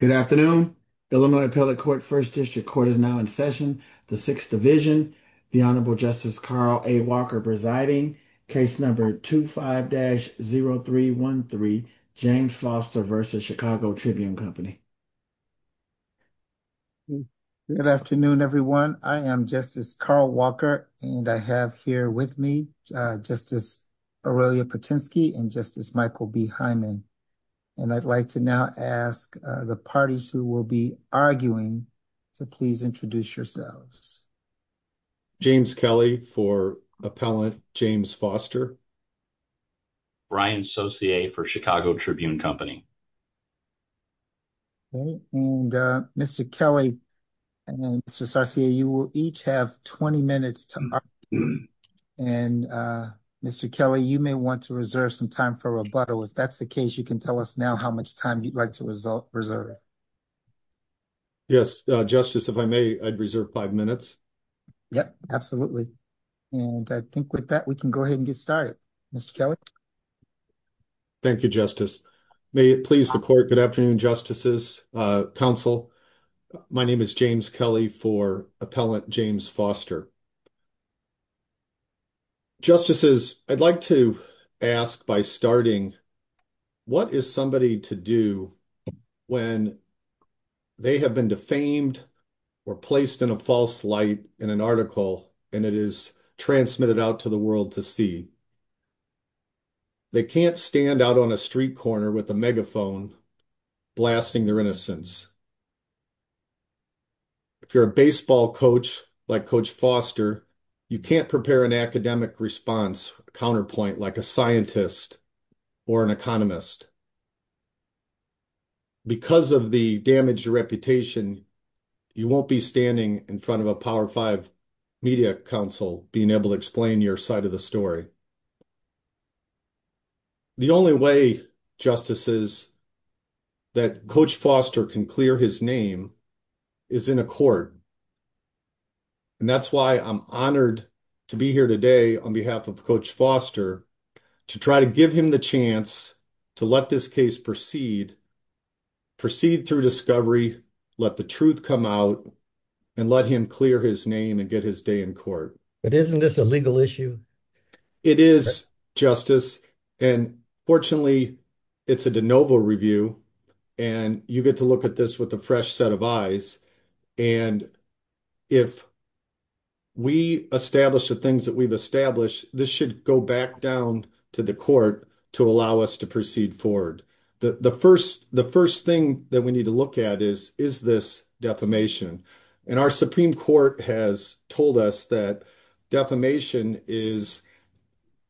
Good afternoon. The Illinois Appellate Court First District Court is now in session. The 6th Division, the Honorable Justice Carl A. Walker presiding, case number 25-0313, James Foster v. Chicago Tribune Company. Good afternoon, everyone. I am Justice Carl Walker, and I have here with me Justice Aurelia Potensky and Justice Michael B. Hyman. And I'd like to now ask the parties who will be arguing to please introduce yourselves. James Kelly for Appellant James Foster. Ryan Saucier for Chicago Tribune Company. Okay. And Mr. Kelly and Mr. Saucier, you will each have 20 minutes to argue. And Mr. Kelly, you may want to reserve some time for rebuttal. If that's the case, you can tell us now how much time you'd like to reserve. Yes, Justice, if I may, I'd reserve five minutes. Yep, absolutely. And I think with that, we can go ahead and get started. Mr. Kelly. Thank you, Justice. May it please the Court, good afternoon, Justices, counsel. My name is James Kelly for Appellant James Foster. Justices, I'd like to ask by starting, what is somebody to do when they have been defamed or placed in a false light in an article, and it is transmitted out to the world to see? They can't stand out on a street corner with a megaphone blasting their innocence. If you're a baseball coach like Coach Foster, you can't prepare an academic response counterpoint like a scientist or an economist. Because of the damaged reputation, you won't be standing in front of a Power 5 media council being able to explain your side of the story. The only way, Justices, that Coach Foster can clear his name is in a court. And that's why I'm honored to be here today on behalf of Coach Foster to try to give him the chance to let this case proceed, proceed through discovery, let the truth come out, and let him clear his name and get his day in court. But isn't this a legal issue? It is, Justice. And fortunately, it's a de novo review. And you get to look at this with a fresh set of eyes. And if we establish the things that we've established, this should go back down to the court to allow us to proceed forward. The first thing that we need to look at is, is this defamation? And our Supreme Court has told us that defamation is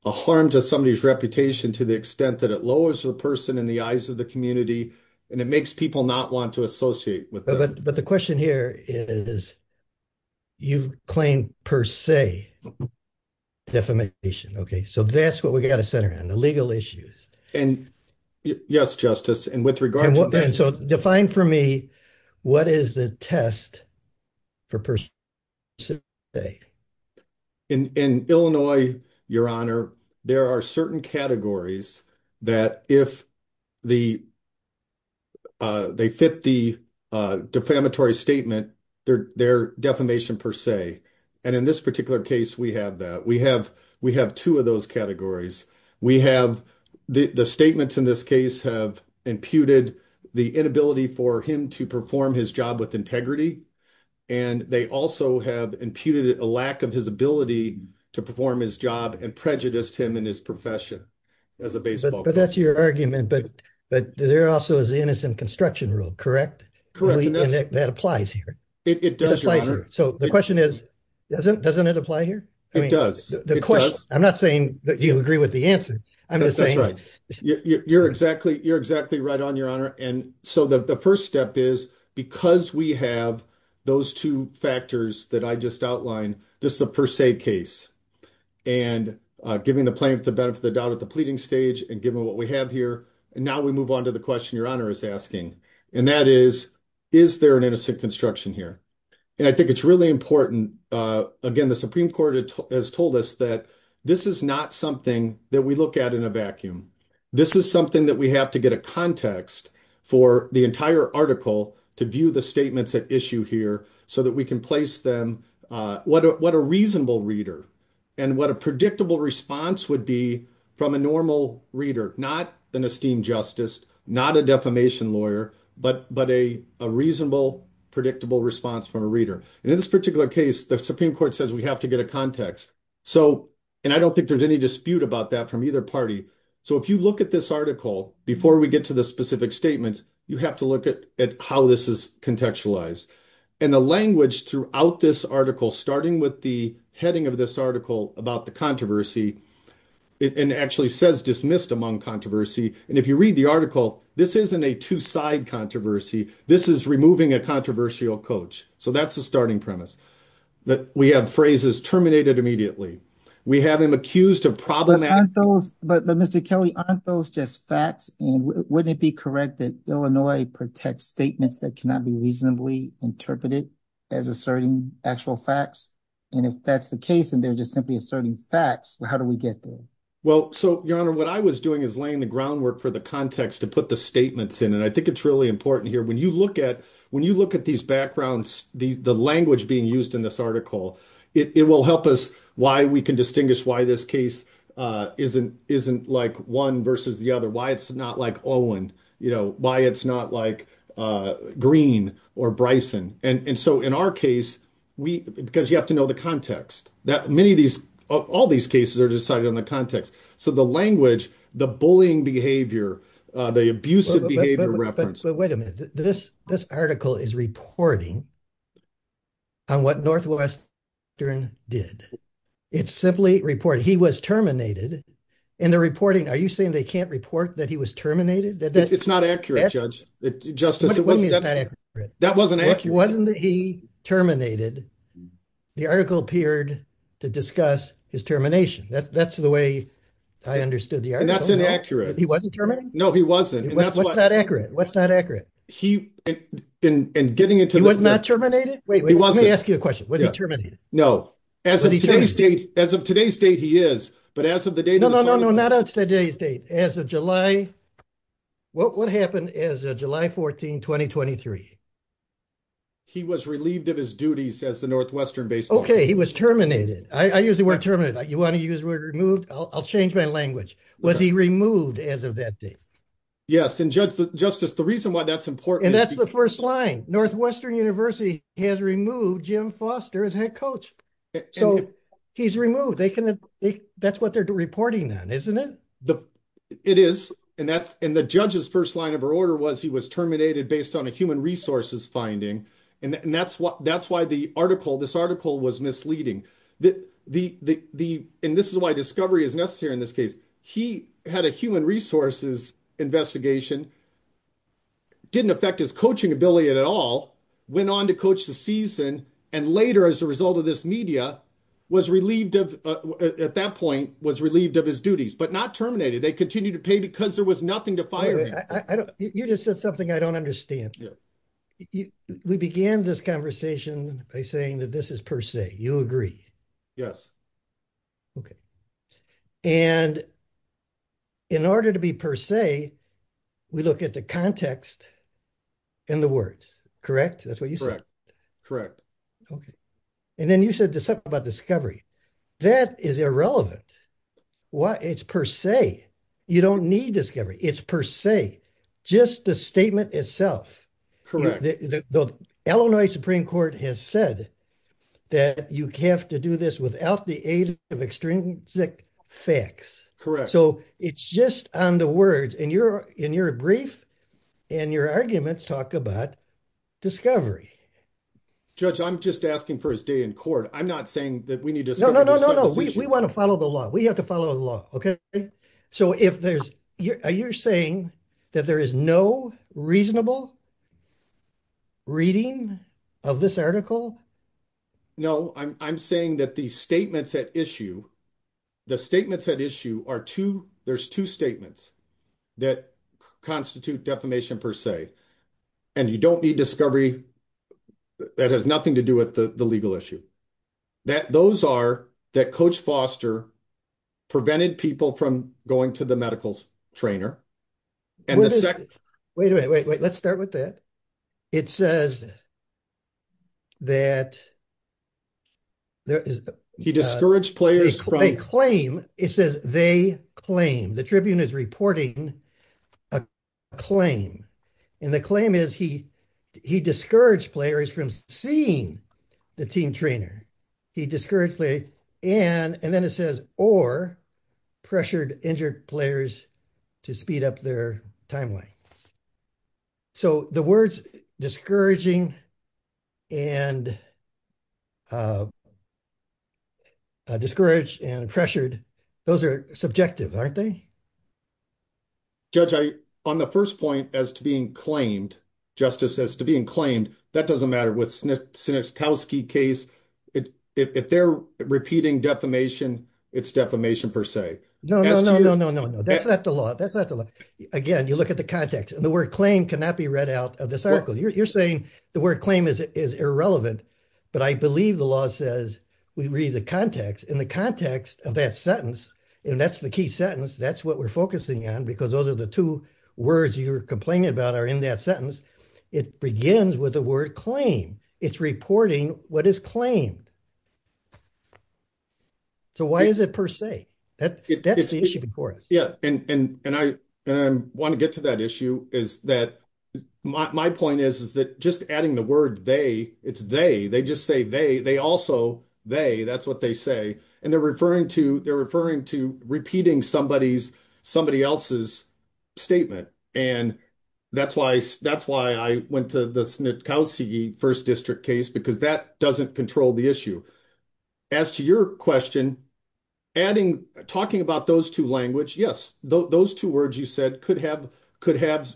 a harm to somebody's reputation to the extent that it lowers the person in the eyes of the community, and it makes people not want to associate with them. But the question here is, you've claimed, per se, defamation. Okay, so that's what we got to center on, the legal issues. And yes, Justice, and with regard to that, so define for me, what is the test for per se? In Illinois, Your Honor, there are certain categories that if they fit the defamatory statement, they're defamation per se. And in this particular case, we have that we have, we have two of those categories. We have the statements in this case have imputed the inability for him to perform his job with integrity. And they also have imputed a lack of his ability to perform his job and prejudiced him in his profession as a baseball player. But that's your argument. But there also is the innocent construction rule, correct? That applies here. It does, Your Honor. So the question is, doesn't it apply here? It does. It does. I'm not saying that you'll agree with the answer. I'm just saying. That's right. You're exactly, you're exactly right on, Your Honor. And so the first step is, because we have those two factors that I just outlined, this is a per se case. And giving the plaintiff the benefit of the doubt at the pleading stage, and given what we have here. And now we move on to the question Your Honor is asking. And that is, is there an innocent construction here? And I think it's really important. Again, the Supreme Court has told us that this is not something that we look at in a vacuum. This is something that we have to get a context for the entire article to view the statements at issue here so that we can place them, what a reasonable reader and what a predictable response would be from a normal reader, not an esteemed justice, not a defamation lawyer, but a reasonable, predictable response from a reader. And in this particular case, the Supreme Court says we have to get a context. And I don't think there's any dispute about that from either party. So if you look at this article before we get to the specific statements, you have to look at how this is contextualized. And the language throughout this article, starting with the heading of this article about the controversy, it actually says dismissed among controversy. And if you read the article, this isn't a two-side controversy. This is removing a controversial coach. So that's the starting premise that we have phrases terminated immediately. We have him accused of problematic. But Mr. Kelly, aren't those just facts? And wouldn't it be correct that Illinois protects statements that cannot be reasonably interpreted as asserting actual facts? And if that's the case, and they're just simply asserting facts, how do we get there? Well, so Your Honor, what I was doing is laying the groundwork for the context to put the statements in. And I think it's really important here. When you look at these backgrounds, the language being used in this article, it will help us why we can distinguish why this case isn't like one versus the other, why it's not like Owen, why it's not like Green or Bryson. And so in our case, because you have to know the context, that many of these, all these cases are decided on the context. So the language, the bullying behavior, the abusive behavior reference. But wait a minute, this article is reporting on what Northwestern did. It's simply reporting, he was terminated. And they're reporting, are you saying they can't report that he was terminated? It's not accurate, Judge, Justice. What do you mean it's not accurate? That wasn't accurate. It wasn't that he terminated. The article appeared to discuss his termination. That's the way I understood the article. And that's inaccurate. He wasn't terminated? No, he wasn't. What's not accurate? What's not accurate? In getting into the- He was not terminated? Wait, let me ask you a question. Was he terminated? No. As of today's date, he is. But as of the date of the- He was relieved of his duties as the Northwestern baseball- Okay, he was terminated. I use the word terminated. You want to use the word removed? I'll change my language. Was he removed as of that date? Yes. And Justice, the reason why that's important- And that's the first line. Northwestern University has removed Jim Foster as head coach. So he's removed. That's what they're reporting on, isn't it? It is. And the judge's first line of order was he was terminated based on a human resource finding. And that's why this article was misleading. And this is why discovery is necessary in this case. He had a human resources investigation. Didn't affect his coaching ability at all. Went on to coach the season. And later, as a result of this media, at that point, was relieved of his duties. But not terminated. They continued to pay because there was nothing to fire him. You just said something I don't understand. We began this conversation by saying that this is per se. You agree? Yes. Okay. And in order to be per se, we look at the context and the words. Correct? That's what you said? Correct. Okay. And then you said something about discovery. That is irrelevant. It's per se. You don't need discovery. It's per se. Just the statement itself. Correct. The Illinois Supreme Court has said that you have to do this without the aid of extrinsic facts. Correct. So it's just on the words. And you're brief. And your arguments talk about discovery. Judge, I'm just asking for his day in court. I'm not saying that we need to- No, no, no, no, no. We want to follow the law. We have to follow the law. Okay? So are you saying that there is no reasonable reading of this article? No. I'm saying that the statements at issue, there's two statements that constitute defamation per se. And you don't need discovery. That has nothing to do with the legal issue. Those are that Coach Foster prevented people from going to the medical trainer. Wait a minute. Wait, wait. Let's start with that. It says that- He discouraged players from- They claim. It says they claim. The Tribune is reporting a claim. And the claim is he discouraged players from seeing the team trainer. He discouraged players. And then it says, or pressured injured players to speed up their timeline. So the words discouraging and discouraged and pressured, those are subjective, aren't they? Judge, on the first point as to being claimed, Justice, as to being claimed, that doesn't matter with Sinekowski case. If they're repeating defamation, it's defamation per se. No, no, no, no, no, no, no. That's not the law. That's not the law. Again, you look at the context and the word claim cannot be read out of this article. You're saying the word claim is irrelevant, but I believe the law says we read the context. In the context of that sentence, and that's the key sentence, that's what we're focusing on because those are the two words you're complaining about are in that sentence. It begins with the word claim. It's reporting what is claimed. So why is it per se? That's the issue before us. Yeah. And I want to get to that issue is that my point is, is that just adding the word they, it's they, they just say they, they also, they, that's what they say. And they're referring to, they're referring to repeating somebody's, somebody else's statement. And that's why, that's why I went to the Sinekowski first district case because that doesn't control the issue. As to your question, adding, talking about those two language, yes, those two words you said could have, could have,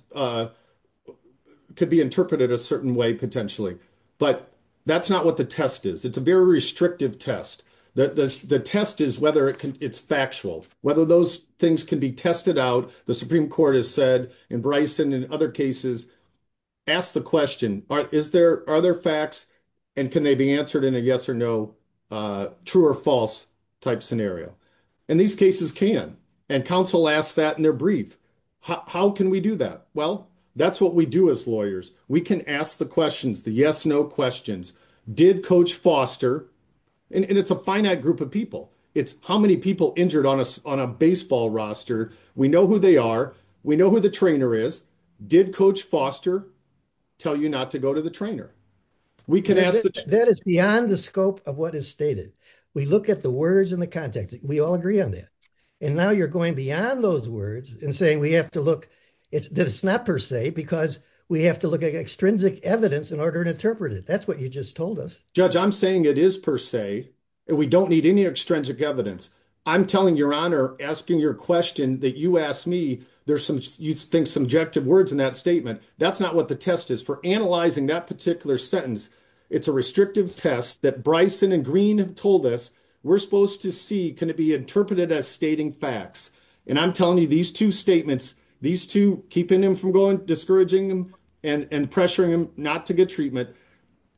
could be interpreted a certain way potentially, but that's not what the test is. It's a very restrictive test. The test is whether it can, it's factual, whether those things can be tested out. The Supreme Court has said in Bryson and other cases, ask the question, is there, are there facts and can they be answered in a yes or no, true or false type scenario? And these cases can, and counsel asks that in their brief. How can we do that? Well, that's what we do as lawyers. We can ask the questions, the yes, no questions. Did coach Foster, and it's a finite group of people. It's how many people injured on a, on a baseball roster. We know who they are. We know who the trainer is. Did coach Foster tell you not to go to the trainer? We can ask. That is beyond the scope of what is stated. We look at the words and the context. We all agree on that. And now you're going beyond those words and saying, we have to it's not per se because we have to look at extrinsic evidence in order to interpret it. That's what you just told us, judge. I'm saying it is per se and we don't need any extrinsic evidence. I'm telling your honor, asking your question that you asked me, there's some, you'd think subjective words in that statement. That's not what the test is for analyzing that particular sentence. It's a restrictive test that Bryson and green have told us. We're supposed to see, can it be interpreted as stating facts? And I'm telling you these two statements, these two keeping them from going, discouraging them and pressuring them not to get treatment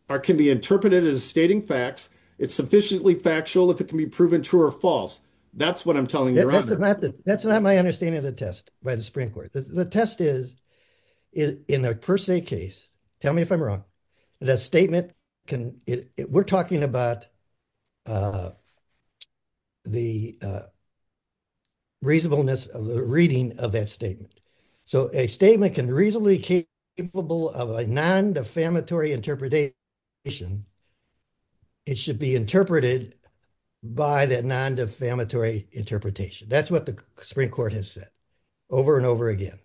or can be interpreted as stating facts. It's sufficiently factual. If it can be proven true or false. That's what I'm telling you. That's not my understanding of the test by the Supreme court. The test is, is in a per se case. Tell me if I'm wrong. That statement can, we're talking about the reasonableness of the reading of that statement. So a statement can reasonably capable of a non defamatory interpretation. It should be interpreted by that non defamatory interpretation. That's what the Supreme court has said over and over again.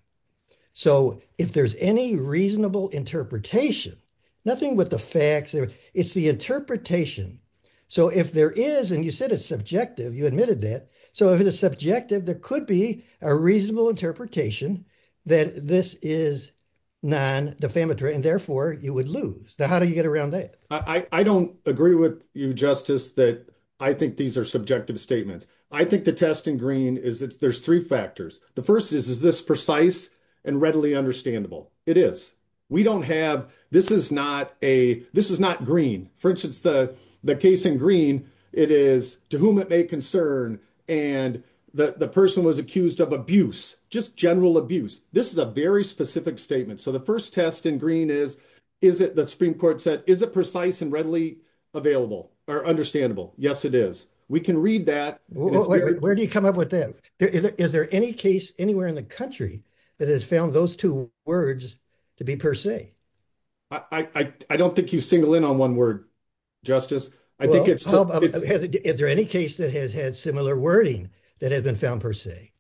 So if there's any reasonable interpretation, nothing with the facts, it's the interpretation. So if there is, and you said it's subjective, you admitted that. So if it is subjective, there could be a reasonable interpretation that this is non defamatory and therefore you would lose the, how do you get around that? I don't agree with you justice that I think these are subjective statements. I think the test in green is it's, there's three factors. The first is, is this and readily understandable. It is. We don't have, this is not a, this is not green. For instance, the case in green, it is to whom it may concern. And the person was accused of abuse, just general abuse. This is a very specific statement. So the first test in green is, is it, the Supreme court said, is it precise and readily available or understandable? Yes, it is. We can read that. Where do you come up with that? Is there any case anywhere in the country that has found those two words to be per se? I don't think you single in on one word, justice. I think it's, is there any case that has had similar wording that has been found per se?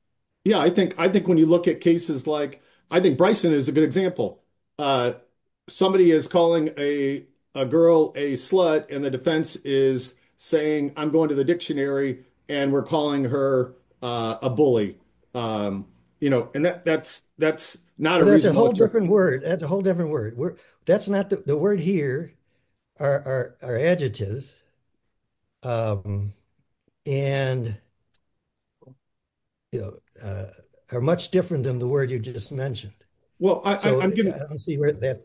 Yeah. I think, I think when you look at cases like, I think Bryson is a good example. Somebody is calling a girl a slut and the defense is saying, I'm going to the dictionary and we're calling her a bully. You know, and that's, that's not a reason. That's a whole different word. That's a whole different word. That's not the, the word here are, are, are adjectives. And, you know, are much different than the word you just mentioned. Well, I don't see where that.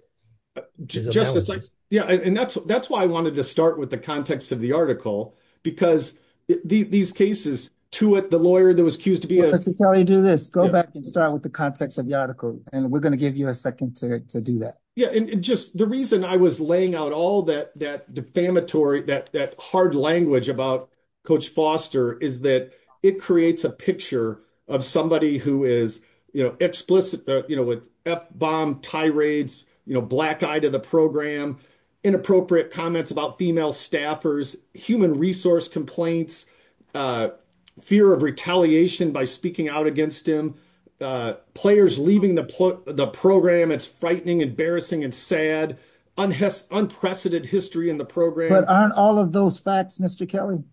Justice. Yeah. And that's, that's why I wanted to start with the context of the article because the, these cases to it, the lawyer that was accused to be. Mr. Kelly, do this, go back and start with the context of the article and we're going to give you a second to do that. Yeah. And just the reason I was laying out all that, that defamatory, that, that hard language about coach Foster is that it creates a picture of somebody who is, you know, explicit, you know, with F bomb tirades, you know, black eye to the program, inappropriate comments about female staffers, human resource complaints, fear of retaliation by speaking out against him, players leaving the, the program. It's frightening, embarrassing, and sad unprecedented history in the program. Aren't all of those facts, Mr. Kelly.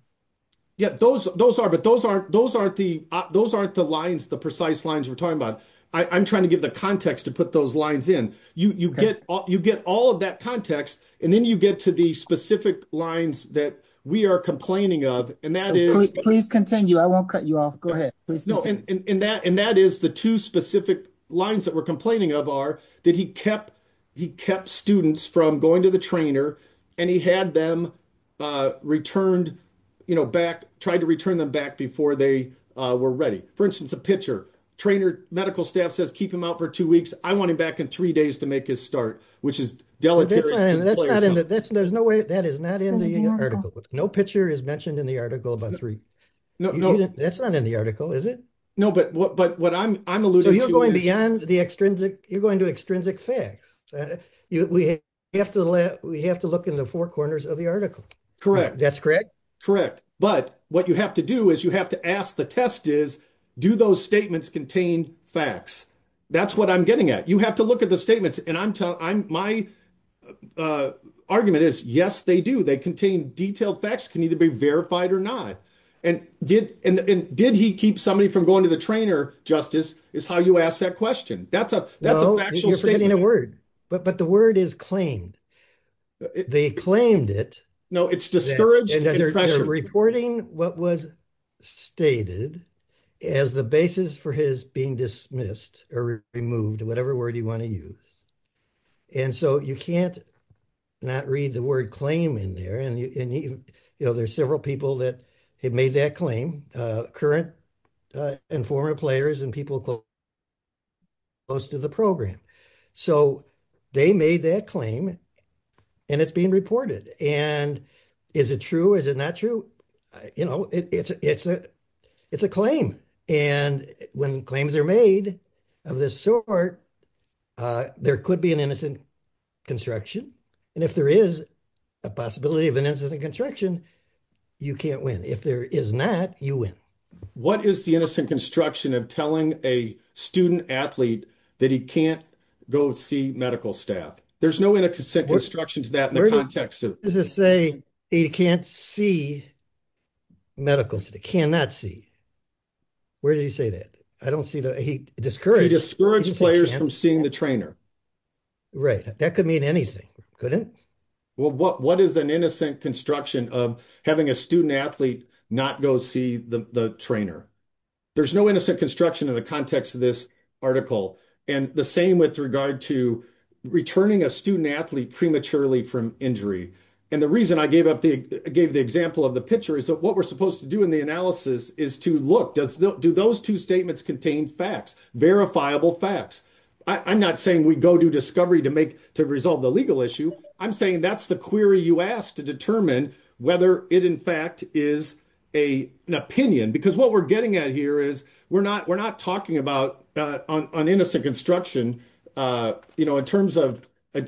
Yeah, those, those are, but those aren't, those aren't the, those aren't the lines, the precise lines we're talking about. I I'm trying to give the context to put those lines in you, you get, you get all of that context and then you get to the specific lines that we are complaining of. And that is, please continue. I won't cut you off. Go ahead. And that, and that is the two specific lines that we're complaining of are that he kept, he kept students from going to the trainer and he had them returned, you know, back, tried to return them back before they were ready. For instance, a pitcher trainer, medical staff says, keep him out for two weeks. I want him back in three days to make his start, which is deleterious. There's no way that is not in the article, but no picture is mentioned in the article about three. No, no, that's not in the article, is it? No, but what, but what I'm, I'm alluding to, you're going beyond the extrinsic, you're going to extrinsic facts. We have to let, we have to look in the four corners of the article. Correct. That's correct. Correct. But what you have to do is you have to ask the test is, do those statements contain facts? That's what I'm getting at. You have to look at the statements and I'm telling, I'm, my argument is yes, they do. They contain detailed facts can either be verified or not. And did, and did he keep somebody from going to the trainer justice is how you ask that question. That's a, that's a factual statement. You're forgetting a word, but the word is claimed. They claimed it. No, it's discouraged. And they're reporting what was stated as the basis for his being dismissed or removed, whatever word you want to use. And so you can't not read the word claim in there. And, you know, there's several people that had made that claim, current and former players and people close to the program. So they made that claim and it's being reported. And is it true? Is it not true? You know, it's a, it's a, it's a claim. And when claims are made of this sort, there could be an innocent construction. And if there is a possibility of an incident construction, you can't win. If there is not, you win. What is the innocent construction of telling a student athlete that he can't go see medical staff? There's no way to consent construction to that in the context of. This is saying he can't see medicals that he cannot see. Where did he say that? I don't see that. He discouraged. He discouraged players from seeing the trainer. Right. That could mean anything. Couldn't. Well, what, what is an innocent construction of having a student athlete not go see the trainer? There's no innocent construction in the context of this article. And the same with regard to returning a student athlete prematurely from injury. And the reason I gave up the, gave the example of the picture is that what we're supposed to do in the analysis is to look, does, do those two statements contain facts, verifiable facts? I'm not saying we go do discovery to make, to resolve the legal issue. I'm saying that's the query you asked to determine whether it in fact is a, an opinion, because what we're getting at here is we're not, we're not talking about on innocent construction. You know, in terms of, in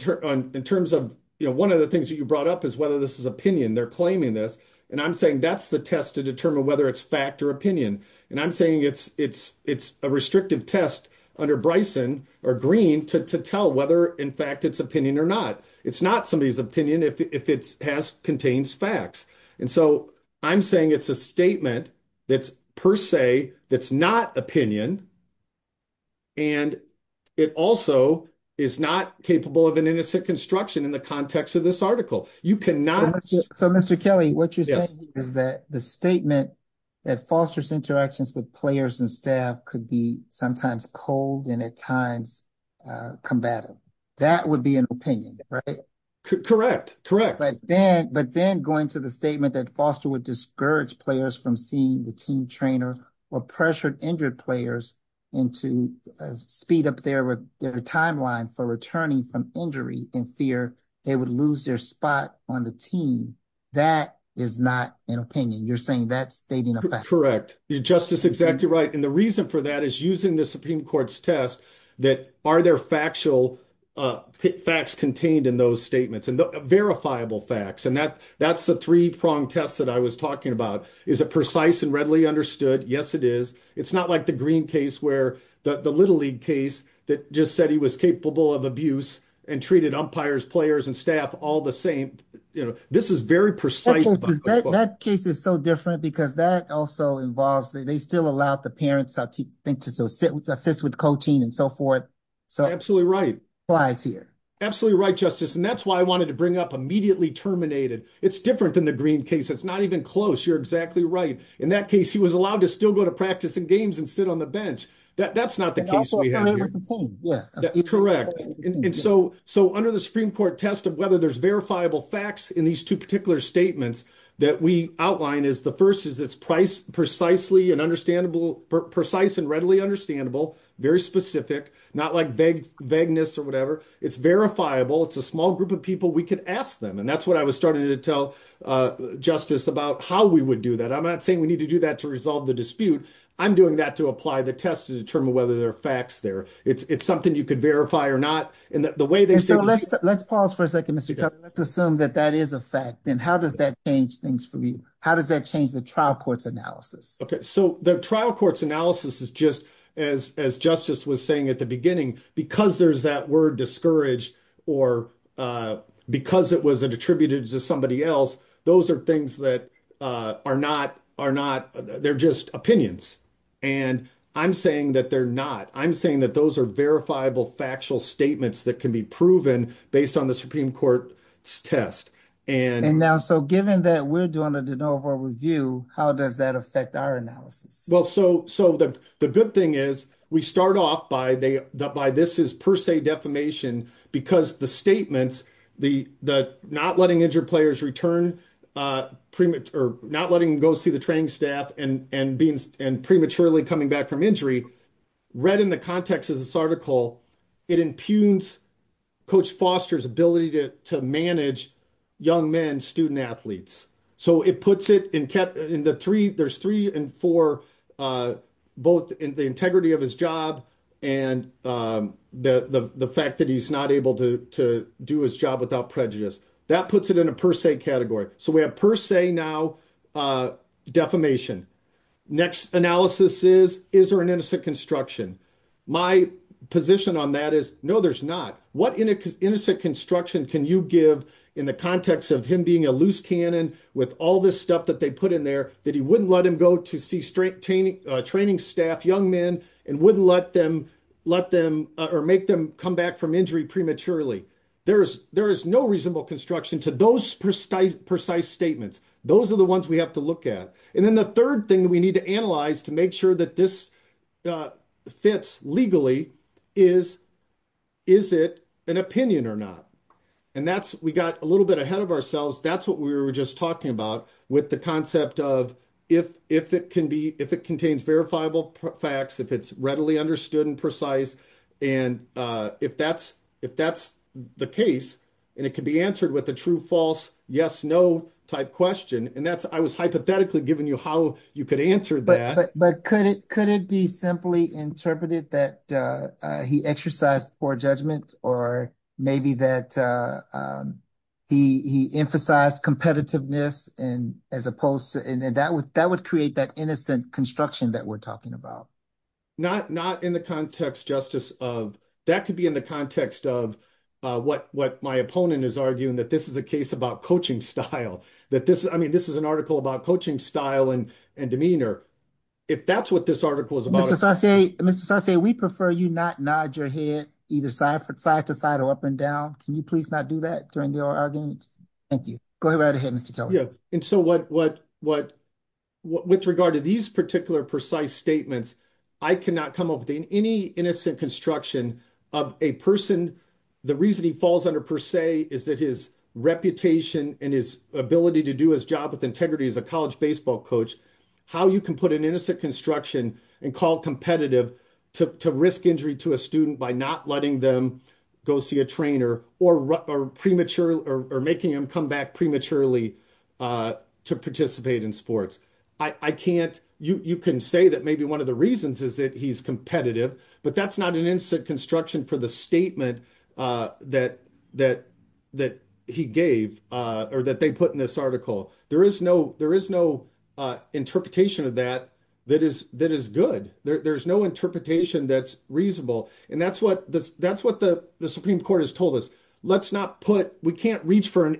terms of, you know, one of the things that you brought up is whether this is opinion, they're claiming this. And I'm saying that's the test to determine whether it's fact or opinion. And I'm saying it's, it's, it's a restrictive test under Bryson or green to, to tell whether in fact it's opinion or not. It's not somebody's opinion. If it's past contains facts. And so I'm saying it's a statement that's per se, that's not opinion. And it also is not capable of an innocent construction in the context of this article. You cannot. So Mr. Kelly, what you're saying is that the statement that fosters interactions with players and staff could be sometimes cold and at times combative. That would be an opinion, right? Correct. Correct. But then, but then going to the statement that foster would discourage players from seeing the team trainer or pressured injured players into speed up their, their timeline for returning from injury in fear, they would lose their spot on the team. That is not an opinion. You're saying that's stating a fact. Correct. You're just as exactly right. And the reason for that is using the Supreme court's test that are there factual facts contained in those verifiable facts. And that that's the three prong tests that I was talking about. Is it precise and readily understood? Yes, it is. It's not like the green case where the little league case that just said he was capable of abuse and treated umpires players and staff all the same. You know, this is very precise. That case is so different because that also involves that they still allow the parents to think to, to sit with, to assist with coaching and so forth. So absolutely right. Absolutely right. Justice. And that's why I wanted to bring up immediately terminated. It's different than the green case. That's not even close. You're exactly right. In that case, he was allowed to still go to practice and games and sit on the bench. That that's not the case. Yeah, correct. And so, so under the Supreme court test of whether there's verifiable facts in these two particular statements that we outline is the first is it's precisely and understandable, precise and readily understandable, very specific, not like vague vagueness or whatever. It's verifiable. It's a small group of people. We could ask them. And that's what I was starting to tell, uh, justice about how we would do that. I'm not saying we need to do that to resolve the dispute. I'm doing that to apply the test to determine whether there are facts there. It's, it's something you could verify or not. And the way they say, let's pause for a second, Mr. Cutler, let's assume that that is a fact. Then how does that change things for me? How does that change the trial court's analysis? Okay. So the trial court's analysis is just as, as justice was saying at the beginning, because there's that word discouraged or, uh, because it was attributed to somebody else, those are things that, uh, are not, are not, they're just opinions. And I'm saying that they're not, I'm saying that those are verifiable factual statements that can be proven based on the Supreme court's test. And now, so given that we're doing a de novo review, how does that affect our analysis? Well, so, so the, the good thing is we start off by they, that by this is per se defamation because the statements, the, the not letting injured players return, uh, premature, not letting them go see the training staff and, and being, and prematurely coming back from injury read in the context of this article, it impugns coach Foster's ability to, to manage young men, student athletes. So it puts it in the three, there's three and four, uh, both in the integrity of his job. And, um, the, the, the fact that he's not able to, to do his job without prejudice, that puts it in a per se category. So we have per se now, uh, defamation next analysis is, is there an innocent construction? My position on that is no, there's not what in a innocent construction can you give in the context of him being a loose cannon with all this stuff that they put in there that he wouldn't let him go to see straight training, uh, training staff, young men, and wouldn't let them let them, uh, or make them come back from injury prematurely. There's, there is no reasonable construction to those precise, precise statements. Those are the things we need to analyze to make sure that this, uh, fits legally is, is it an opinion or not? And that's, we got a little bit ahead of ourselves. That's what we were just talking about with the concept of if, if it can be, if it contains verifiable facts, if it's readily understood and precise. And, uh, if that's, if that's the case and it can be answered with a yes, no type question. And that's, I was hypothetically giving you how you could answer that, but could it, could it be simply interpreted that, uh, uh, he exercised poor judgment or maybe that, uh, um, he, he emphasized competitiveness and as opposed to, and then that would, that would create that innocent construction that we're talking about. Not, not in the context justice of that could be in the context of, uh, what, what my opponent is arguing that this is a case about coaching style, that this, I mean, this is an article about coaching style and, and demeanor. If that's what this article is about. Mr. Sarsay, Mr. Sarsay, we prefer you not nod your head either side for side to side or up and down. Can you please not do that during your arguments? Thank you. Go right ahead, Mr. Kelly. Yeah. And so what, what, what, what, with regard to these particular precise statements, I cannot come up with any innocent construction of a person. The reason he falls under per se is that his reputation and his ability to do his job with integrity as a college baseball coach, how you can put an innocent construction and call competitive to risk injury to a student by not letting them go see a trainer or premature or making him come back prematurely, uh, to participate in sports. I can't, you, you can say that maybe one of the reasons is that he's competitive, but that's not an instant construction for the statement, uh, that, that, that he gave, uh, or that they put in this article. There is no, there is no, uh, interpretation of that, that is, that is good. There, there's no interpretation that's reasonable. And that's what this, that's what the Supreme Court has told us. Let's not put, we can't reach for an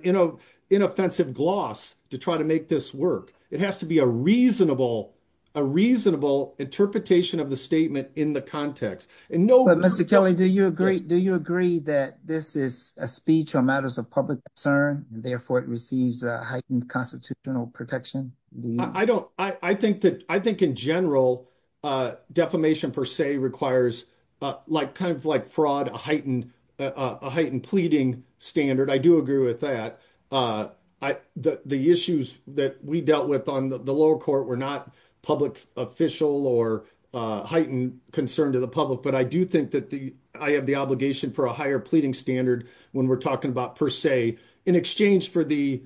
inoffensive gloss to try to make this work. It has to be a reasonable, a reasonable interpretation of the statement in the context. And no, but Mr. Kelly, do you agree, do you agree that this is a speech or matters of public concern and therefore it receives a heightened constitutional protection? I don't, I think that, I think in general, uh, defamation per se requires, uh, like kind of like fraud, a heightened, uh, a heightened pleading standard. I do agree with that. Uh, I, the, the issues that we dealt with on the lower court were not public official or, uh, heightened concern to the public, but I do think that the, I have the obligation for a higher pleading standard when we're talking about per se in exchange for the,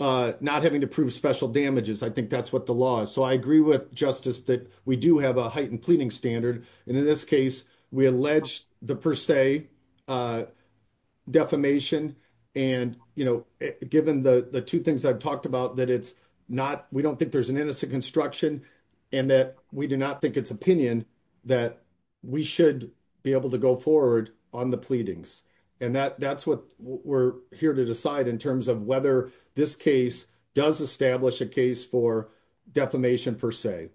uh, not having to prove special damages. I think that's what the law is. So I agree with justice that we do have a heightened pleading standard. And in this case, we alleged the per se, uh, defamation and, you know, given the two things I've talked about, that it's not, we don't think there's an innocent construction and that we do not think it's opinion that we should be able to go forward on the pleadings. And that, that's what we're here to decide in terms of whether this case does establish a case for defamation per se.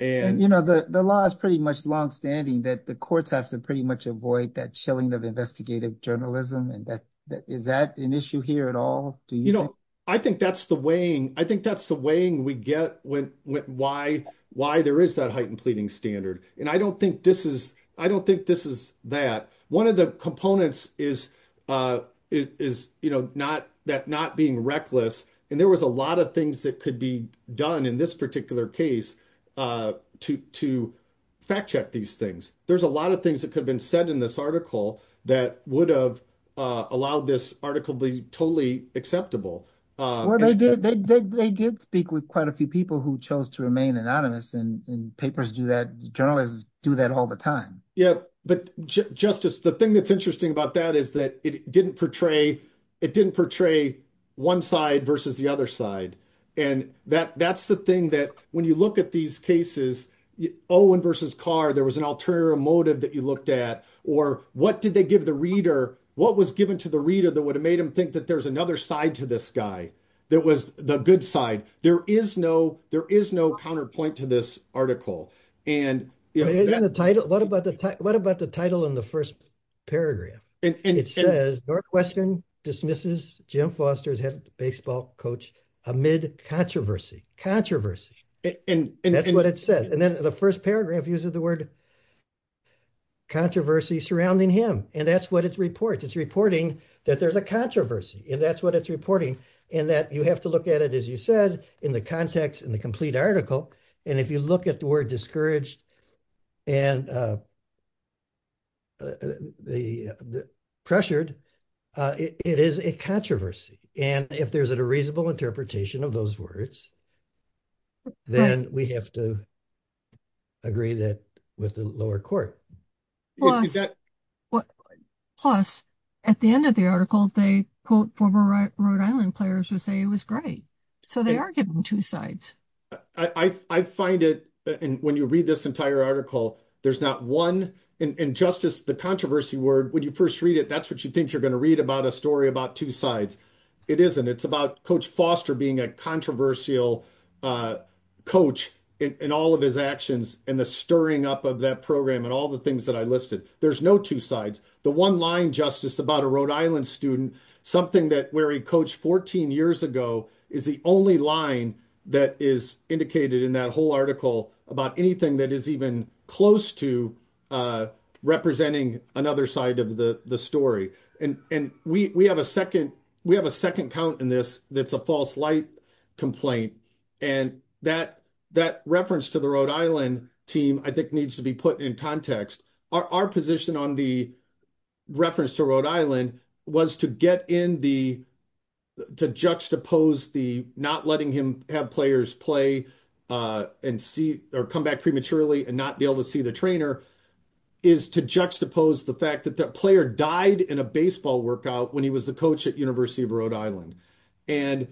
And, you know, the, the law is pretty much longstanding that the courts have to pretty much avoid that chilling of investigative journalism. And that is that an issue here at all? Do you know, I think that's the weighing, I think that's the weighing we get when, why, why there is that heightened pleading standard. And I don't think this is, I don't think this is that one of the components is, uh, is, you know, not that not being reckless. And there was a lot of things that could be done in this particular case, uh, to, to fact check these things. There's a lot of things that could have been said in this that would have, uh, allowed this article be totally acceptable. Well, they did, they did, they did speak with quite a few people who chose to remain anonymous and papers do that. Journalists do that all the time. Yeah. But justice, the thing that's interesting about that is that it didn't portray, it didn't portray one side versus the other side. And that that's the thing that when you look at these cases, Owen versus Carr, there was an ulterior motive that you looked at, or what did they give the reader? What was given to the reader that would have made him think that there's another side to this guy? That was the good side. There is no, there is no counterpoint to this article. And the title, what about the, what about the title in the first paragraph? And it says Northwestern dismisses Jim Foster's head baseball coach amid controversy, controversy. And that's what it says. And then the first paragraph uses the word controversy surrounding him. And that's what it reports. It's reporting that there's a controversy and that's what it's reporting. And that you have to look at it, as you said, in the context, in the complete article. And if you look at the word discouraged and, uh, uh, the, the pressured, uh, it is a controversy. And if there's a reasonable interpretation of those words, then we have to agree that with the lower court. Plus at the end of the article, they quote former Rhode Island players would say it was great. So they are giving two sides. I find it. And when you read this entire article, there's not one injustice, the controversy word, when you first read it, that's what you think you're going to read about a story about two sides. It isn't. It's about coach Foster being a controversial, uh, coach in all of his actions and the stirring up of that program and all the things that I listed. There's no two sides. The one line justice about a Rhode Island student, something that where he coached 14 years ago is the only line that is indicated in that whole article about anything that is even close to, uh, representing another side of the story. And, and we, we have a second, we have a second count in this. That's a false light complaint. And that, that reference to the Rhode Island team, I think needs to be put in context. Our, our position on the reference to Rhode Island was to get in the, to juxtapose the, not letting him have players play, uh, and see, or come back prematurely and not be able to see the trainer is to juxtapose the fact that that player died in a baseball workout when he was the coach at University of Rhode Island. And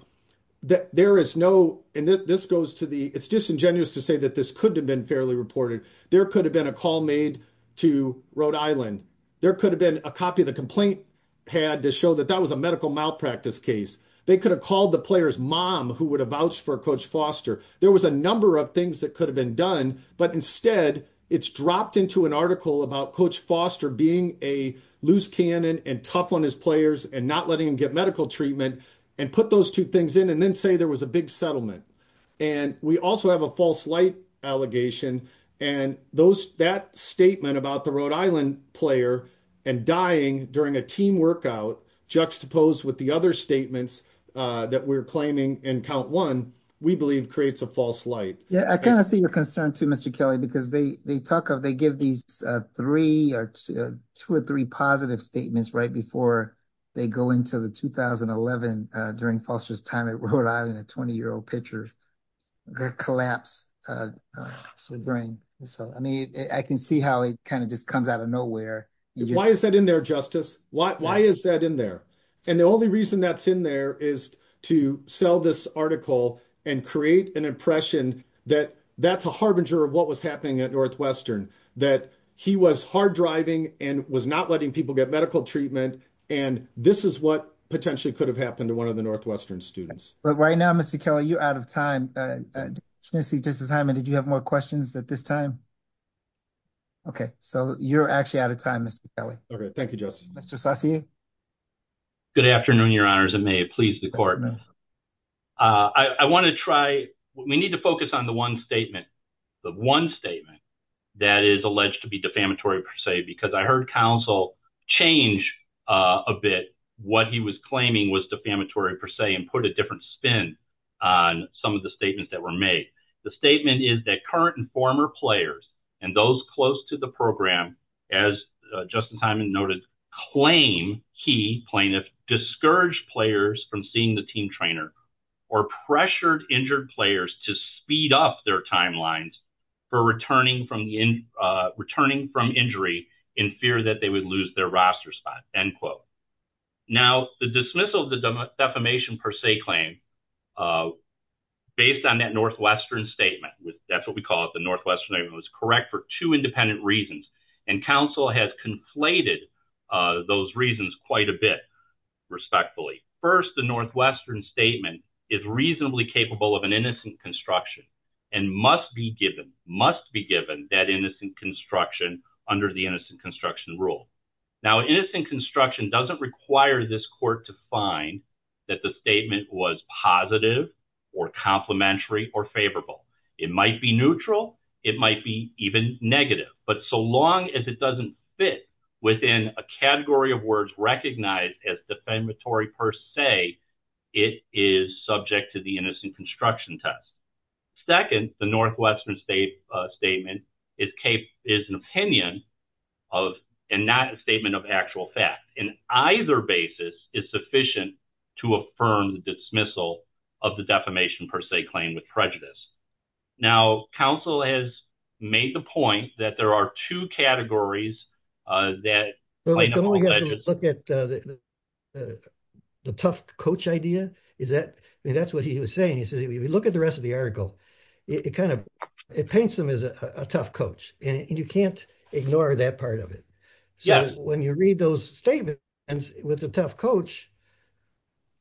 there is no, and this goes to the, it's disingenuous to say that this could have been fairly reported. There could have been a call made to Rhode Island. There could have been a copy of the complaint had to show that that was a medical malpractice case. They could have called the player's mom who would have vouched for coach Foster. There was a number of things that could done, but instead it's dropped into an article about coach Foster being a loose cannon and tough on his players and not letting him get medical treatment and put those two things in and then say there was a big settlement. And we also have a false light allegation and those, that statement about the Rhode Island player and dying during a team workout juxtaposed with the other statements that we're claiming in count one, we believe creates a false light. Yeah. I kind of see your concern too, Mr. Kelly, because they, they talk of, they give these three or two or three positive statements right before they go into the 2011 during Foster's time at Rhode Island, a 20 year old pitcher, the collapse. So the brain, so, I mean, I can see how it kind of just comes out of nowhere. Why is that in there, justice? Why, why is that in there? And the only reason that's in there is to sell this article and create an impression that that's a harbinger of what was happening at Northwestern, that he was hard driving and was not letting people get medical treatment. And this is what potentially could have happened to one of the Northwestern students. But right now, Mr. Kelly, you're out of time. Justice Hyman, did you have more questions at this time? Okay. So you're actually out of time, Mr. Kelly. Okay. Thank you, justice. Mr. Saucier. Good afternoon, your honors. And may it please the court. I want to try, we need to focus on the one statement, the one statement that is alleged to be defamatory per se, because I heard counsel change a bit what he was claiming was defamatory per se and put a different spin on some of the statements that were made. The statement is that current and key plaintiff discouraged players from seeing the team trainer or pressured injured players to speed up their timelines for returning from injury in fear that they would lose their roster spot, end quote. Now the dismissal of the defamation per se claim, based on that Northwestern statement, that's what we call it, the Northwestern statement was correct for two independent reasons. And counsel has conflated those reasons quite a bit, respectfully. First, the Northwestern statement is reasonably capable of an innocent construction and must be given, must be given that innocent construction under the innocent construction rule. Now, innocent construction doesn't require this court to find that the statement was positive or complimentary or favorable. It might be neutral. It might be even negative, but so long as it doesn't fit within a category of words recognized as defamatory per se, it is subject to the innocent construction test. Second, the Northwestern statement is an opinion of, and not a statement of actual fact. In either basis, it's sufficient to affirm the dismissal of the defamation per se claim with prejudice. Now, counsel has made the point that there are two categories, uh, that look at the tough coach idea. Is that, I mean, that's what he was saying. He said, if you look at the rest of the article, it kind of, it paints them as a tough coach and you can't ignore that part of it. So when you read those statements with the tough coach,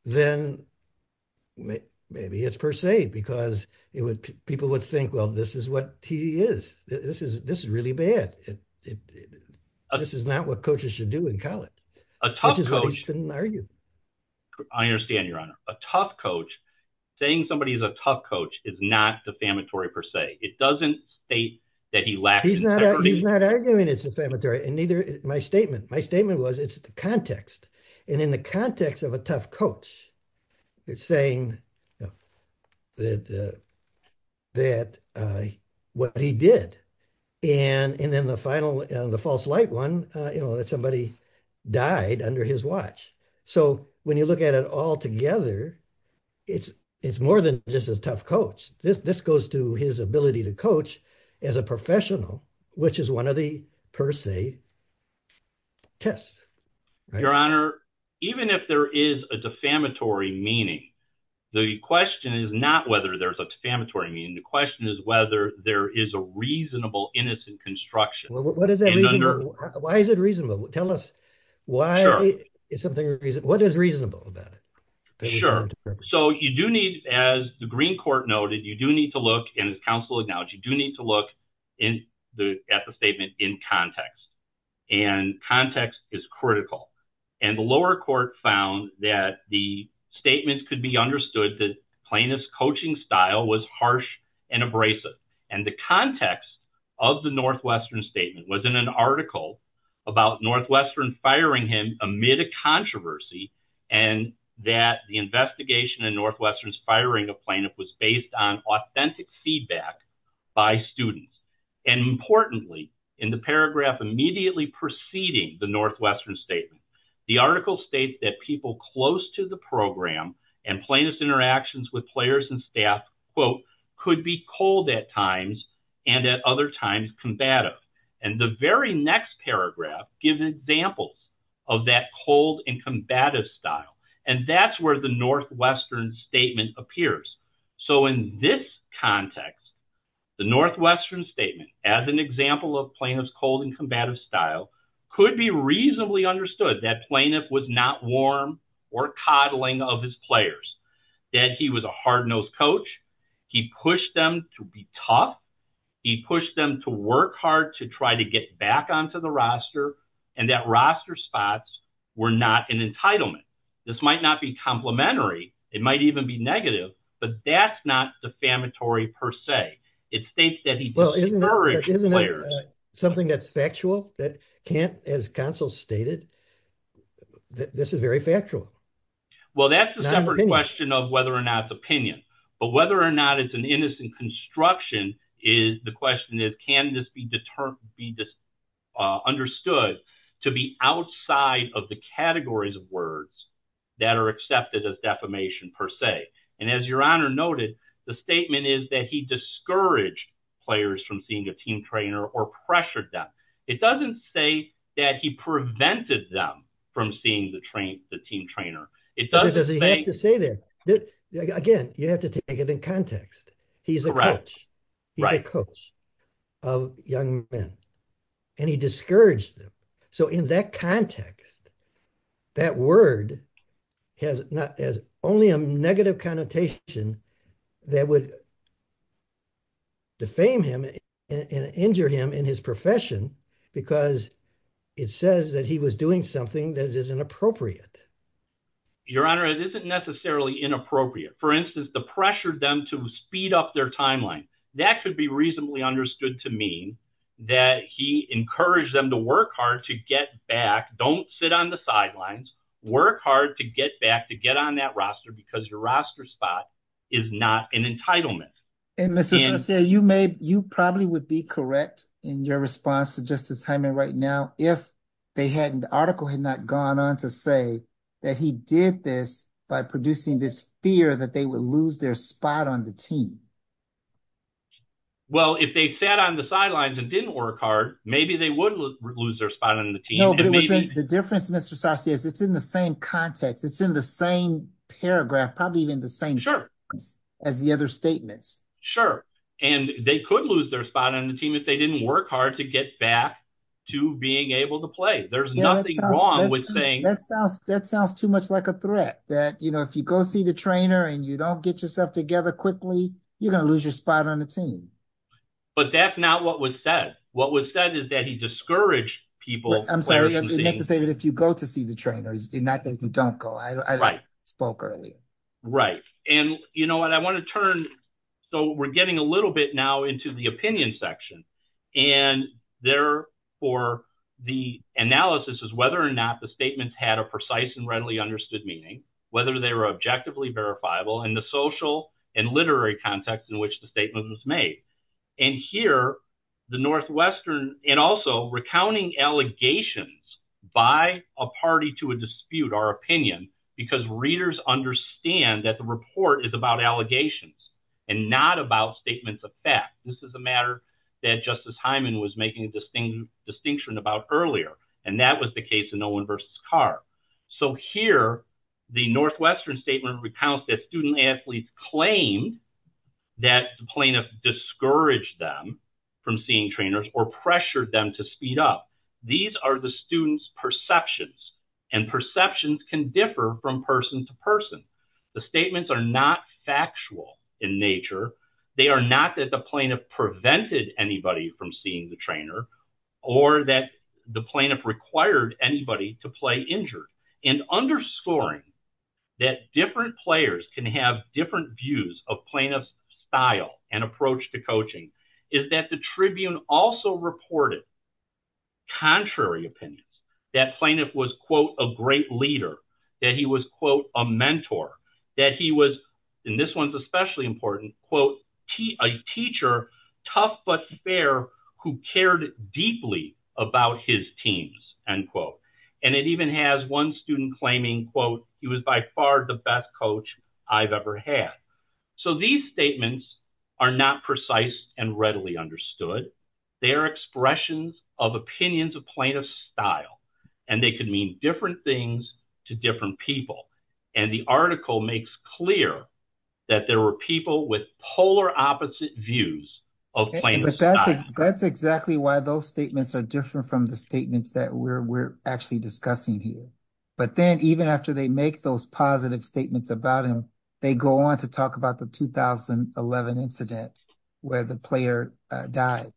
then maybe it's per se, because it would, people would think, well, this is what he is. This is, this is really bad. This is not what coaches should do in college, which is what he's been arguing. I understand your honor. A tough coach saying somebody is a tough coach is not defamatory per se. It doesn't state that he lacks integrity. He's not arguing it's defamatory and neither my statement. My statement was it's the context. And in the context of a tough coach, it's saying that, uh, that, uh, what he did and, and then the final, uh, the false light one, uh, you know, that somebody died under his watch. So when you look at it all together, it's, it's more than just as tough coach. This, this goes to his ability to coach as a professional, which is one of the per se tests. Your honor, even if there is a defamatory meaning, the question is not whether there's a defamatory meaning. The question is whether there is a reasonable, innocent construction. What is that? Why is it reasonable? Tell us why is something, what is reasonable about it? Sure. So you do need, as the green court noted, you do need to look in as counsel acknowledged, you do need to look in the, at the statement in context and context is critical. And the lower court found that the statements could be understood that plaintiff's coaching style was harsh and abrasive. And the context of the Northwestern statement was in an article about Northwestern firing him amid a controversy and that the investigation in Northwestern's firing a plaintiff was based on authentic feedback by students. And importantly, in the paragraph immediately preceding the Northwestern statement, the article states that people close to the program and plaintiff's interactions with players and staff quote, could be cold at times and at other times combative. And the very next paragraph gives examples of that cold and combative style. And that's where the Northwestern statement appears. So in this context, the Northwestern statement as an example of plaintiff's cold and combative style could be reasonably understood that plaintiff was not warm or coddling of his players, that he was a hard-nosed coach. He pushed them to be tough. He pushed them to work hard to try to get back onto the roster and that roster spots were not an entitlement. This might not be complimentary. It might even be negative, but that's not defamatory per se. It states that he discouraged the player. Isn't that something that's factual that can't, as counsel stated, that this is very factual? Well, that's a separate question of whether or not it's opinion, but whether or not it's an construction is the question is, can this be understood to be outside of the categories of words that are accepted as defamation per se? And as your honor noted, the statement is that he discouraged players from seeing a team trainer or pressured them. It doesn't say that he prevented them from seeing the team trainer. It doesn't say that. Again, you have to take it in context. He's a coach of young men and he discouraged them. So in that context, that word has only a negative connotation that would defame him and injure him in his profession because it says that he was doing something that is inappropriate. Your honor, it isn't necessarily inappropriate. For instance, the to speed up their timeline. That could be reasonably understood to mean that he encouraged them to work hard, to get back, don't sit on the sidelines, work hard to get back, to get on that roster because your roster spot is not an entitlement. And you may, you probably would be correct in your response to Justice Hyman right now, if they hadn't, the article had not gone on to say that he did this by producing this fear that they would lose their spot on the team. Well, if they sat on the sidelines and didn't work hard, maybe they would lose their spot on the team. No, but the difference Mr. Sauci is it's in the same context. It's in the same paragraph, probably even the same as the other statements. Sure. And they could lose their spot on the team if they didn't work hard to get back to being able to play. There's nothing wrong with saying that sounds too much like a threat that, you know, if you go see the trainer and you don't get yourself together quickly, you're going to lose your spot on the team. But that's not what was said. What was said is that he discouraged people. I'm sorry to say that if you go to see the trainers, do not think you don't go. I spoke earlier. Right. And you know what I want to turn. So we're getting a little bit now into the opinion section. And therefore, the analysis is whether or not the statements had a precise and readily understood meaning, whether they were objectively verifiable in the social and literary context in which the statement was made. And here, the Northwestern and also recounting allegations by a party to a dispute, our opinion, because readers understand that the report is about allegations and not about statements of fact. This is a matter that Justice Hyman was making a distinct distinction about earlier, and that was the case in Owen versus Carr. So here, the Northwestern statement recounts that student athletes claim that the plaintiff discouraged them from seeing trainers or pressured them to speed up. These are the students perceptions, and perceptions can differ from person to person. The statements are not factual in nature. They are not that the plaintiff prevented anybody from seeing the trainer or that the plaintiff required anybody to play injured. And underscoring that different players can have different views of plaintiff's style and approach to coaching is that the Tribune also reported contrary opinions, that plaintiff was, quote, a great leader, that he was, quote, a mentor, that he was, and this one's especially important, quote, a teacher, tough but fair, who cared deeply about his teams, end quote. And it even has one student claiming, quote, he was by far the best coach I've ever had. So these statements are not precise and readily understood. They are expressions of opinions of plaintiff's style, and they can mean different things to different people. And the article makes clear that there were people with polar opposite views of plaintiff's style. That's exactly why those statements are different from the statements that we're actually discussing here. But then even after they make those positive statements about him, they go on to talk about the 2011 incident where the player died.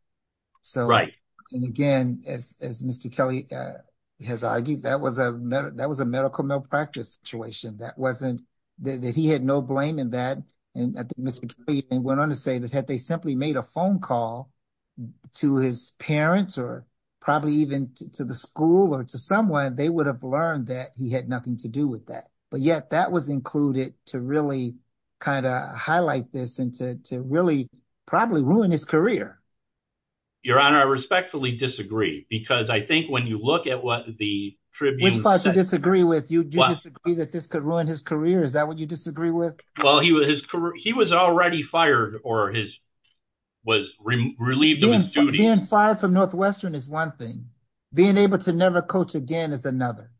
So, and again, as Mr. Kelly has argued, that was a medical malpractice situation. That wasn't, that he had no blame in that. And I think Mr. Kelly went on to say that had they simply made a phone call to his parents or probably even to the school or to someone, they would have learned that he had nothing to do with that. But yet that was included to really kind of highlight this and to really probably ruin his career. Your Honor, I respectfully disagree because I think when you look at what the tribune- Which part do you disagree with? Do you disagree that this could ruin his career? Is that what you disagree with? Well, he was already fired or was relieved of his duty- Being fired from Northwestern is one thing. Being able to never coach again is another.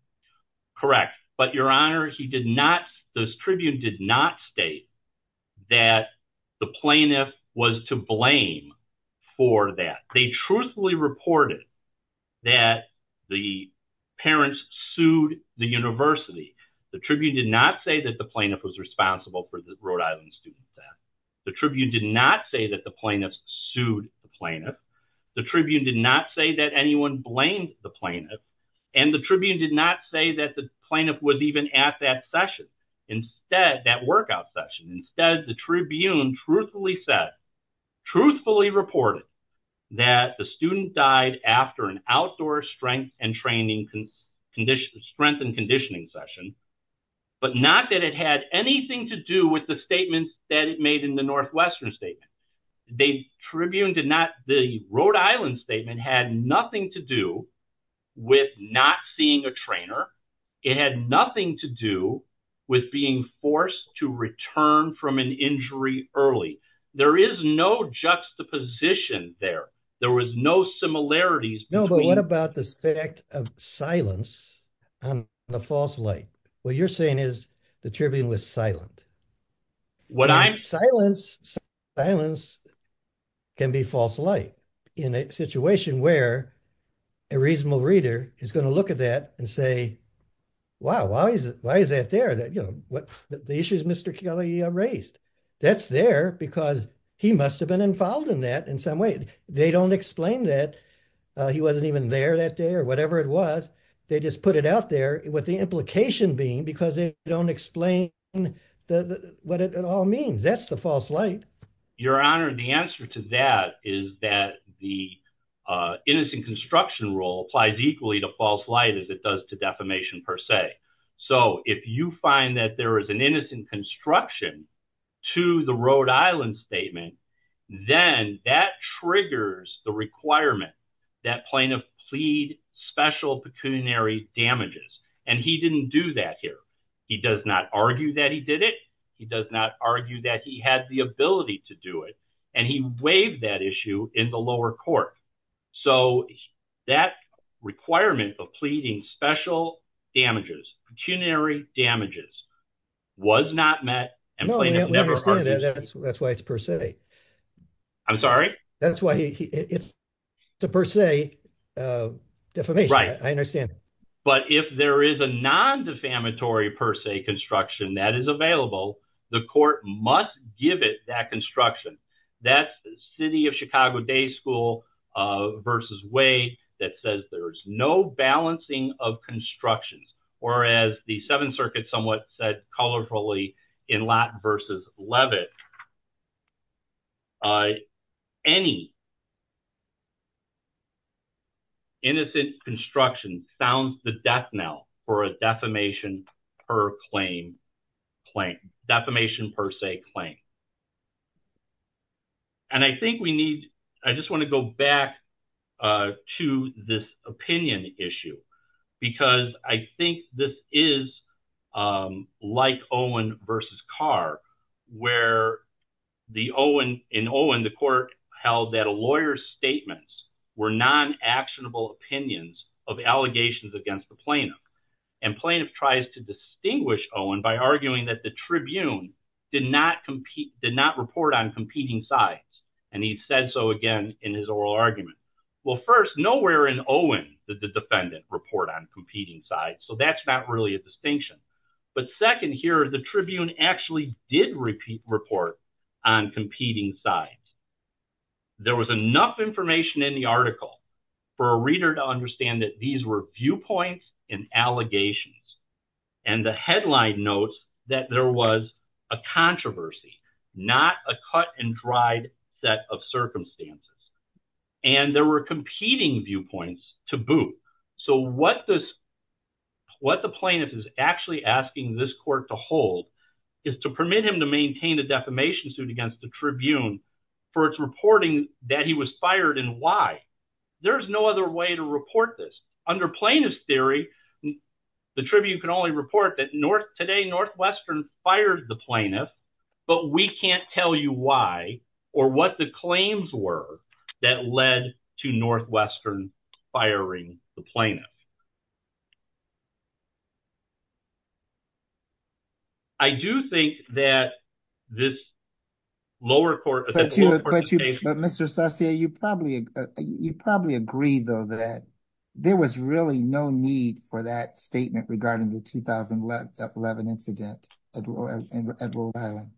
Correct. But Your Honor, he did not, this tribune did not state that the plaintiff was to blame for that. They truthfully reported that the parents sued the university. The tribune did not say that the plaintiff was responsible for the Rhode Island student death. The tribune did not say that the plaintiff sued the plaintiff. The tribune did not say that anyone blamed the plaintiff. And the tribune did not say that the plaintiff was even at that session. Instead, that workout session. Instead, the tribune truthfully said, truthfully reported that the student died after an outdoor strength and conditioning session, but not that it had anything to do with the statements that it made in the Northwestern statement. The tribune did not, the Rhode Island statement had nothing to do with not seeing a trainer. It had nothing to do with being forced to return from an injury early. There is no juxtaposition there. There was no similarities- No, but what about this fact of silence and the false light? What you're saying is the tribune was silent. Silence can be false light. In a situation where a reasonable reader is going to look at that and say, wow, why is that there? The issues Mr. Kelly raised, that's there because he must've been involved in that in some way. They don't explain that he wasn't even there that day or whatever it was. They just put it out there with the implication being because they don't explain what it all means. That's the false light. Your Honor, the answer to that is that the innocent construction rule applies equally to false light as it does to defamation per se. If you find that there is an innocent construction to the Rhode Island statement, then that triggers the requirement that plaintiff plead special pecuniary damages. He didn't do that here. He does not argue that he did it. He does not argue that he had the ability to do it. He waived that issue in the lower court. That requirement of pleading special damages, pecuniary damages, was not met and plaintiff never argued- No, we understand that. That's why it's per se. I'm sorry? That's why it's a per se defamation. I understand. But if there is a non-defamatory per se construction that is available, the court must give it that construction. That's the city of Chicago day school versus way that says there's no balancing of constructions or as the seventh circuit somewhat said colorfully in Latin versus Levitt, any innocent construction sounds the death knell for a defamation per se claim. And I think we need, I just want to go back to this opinion issue because I think this is like Owen versus Carr where in Owen the court held that a lawyer's statements were non-actionable opinions of allegations against the plaintiff. And plaintiff tries to distinguish Owen by arguing that the tribune did not report on competing sides. And he said so again in his oral argument. Well first, nowhere in Owen did the defendant report on competing sides. So that's not really a distinction. But second here, the tribune actually did repeat report on competing sides. There was enough information in the article for a reader to understand that these were viewpoints and allegations. And the headline notes that there was a controversy, not a cut and dried set of circumstances. And there were competing viewpoints to boot. So what this, what the plaintiff is actually asking this court to hold is to permit him to maintain a defamation suit against the tribune for its reporting that he was fired and why. There's no other way to report this. Under plaintiff's theory, the tribune can only report that today Northwestern fired the plaintiff, but we can't tell you why or what the claims were that led to Northwestern firing the plaintiff. I do think that this lower court... But Mr. Sarsier, you probably agree though that there was really no need for that statement regarding the 2011 incident at Rhode Island.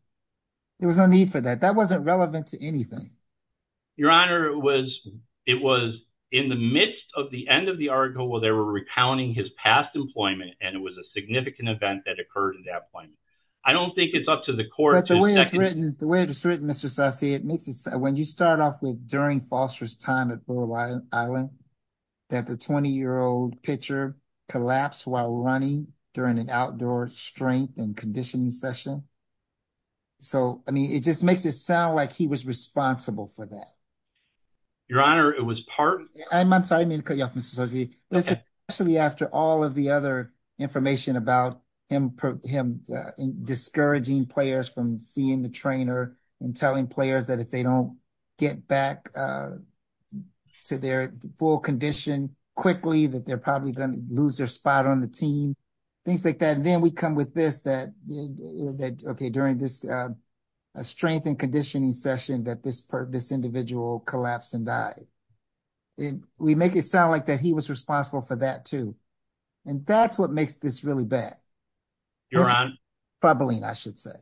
There was no need for that. That wasn't relevant to anything. Your Honor, it was in the midst of the end of the article where they were recounting his past employment and it was a significant event that occurred at that point. I don't think it's up to the court to... But the way it's written, Mr. Sarsier, it makes it sound... When you start off with during Foster's time at Rhode Island, that the 20-year-old pitcher collapsed while running during an outdoor strength and conditioning session. So, I mean, it just makes it sound like he was responsible for that. Your Honor, it was part... I'm sorry, I mean to cut you off, Mr. Sarsier, but especially after all of the other information about him discouraging players from seeing the trainer and telling players that if they don't get back to their full condition quickly, that they're probably going to lose their spot on the team, things like that. And then we come with this that, okay, during this strength and conditioning session that this individual collapsed and died. We make it sound like that he was responsible for that too. And that's what makes this really bad. Your Honor... Bubbling, I should say.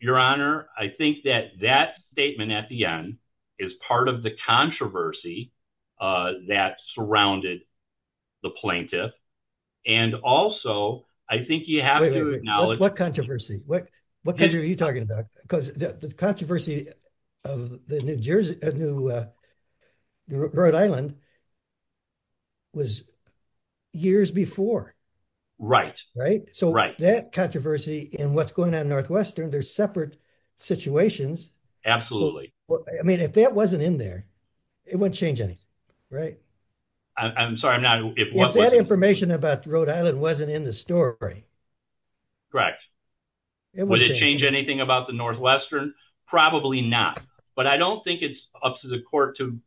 Your Honor, I think that that statement at the end is part of the controversy that surrounded the plaintiff. And also, I think you have to acknowledge... What controversy? What country are you talking about? Because the controversy of the New Rhode Island was years before, right? So, that controversy and what's going on in Northwestern, they're separate situations. I mean, if that wasn't in there, it wouldn't change anything, right? I'm sorry, I'm not... If that information about Rhode Island wasn't in the story... Correct. Would it change anything about the Northwestern? Probably not. But I don't think it's up to the court to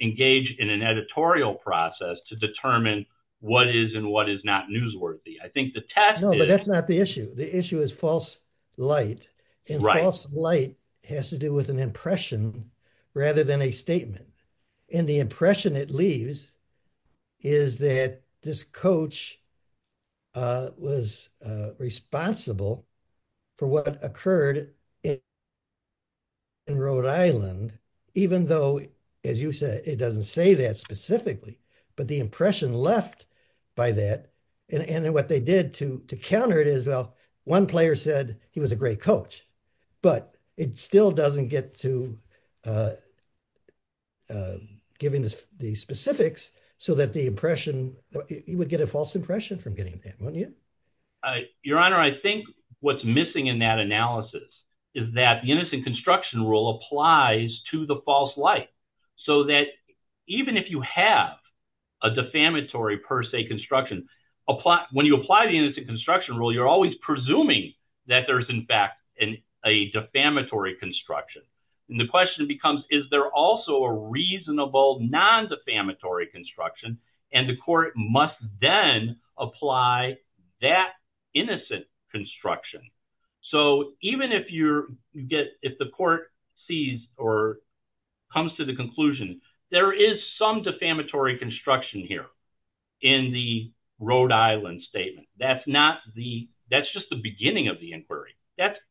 engage in an editorial process to determine what is and what is not newsworthy. I think the test is... No, but that's not the issue. The issue is false light. And false light has to do with an impression rather than a statement. And the impression it leaves is that this coach was responsible for what occurred in Rhode Island, even though, as you said, it doesn't say that specifically, but the impression left by that. And what they did to counter it is, well, one player said he was a great coach, but it still doesn't get to... Given the specifics, so that the impression... You would get a false impression from getting that, wouldn't you? Your Honor, I think what's missing in that analysis is that the innocent construction rule applies to the false light. So that even if you have a defamatory per se construction, when you apply the innocent construction rule, you're always presuming that there's, in fact, a defamatory construction. And the question becomes, is there also a reasonable non-defamatory construction? And the court must then apply that innocent construction. So even if the court sees or comes to the conclusion, there is some defamatory construction here in the Rhode Island,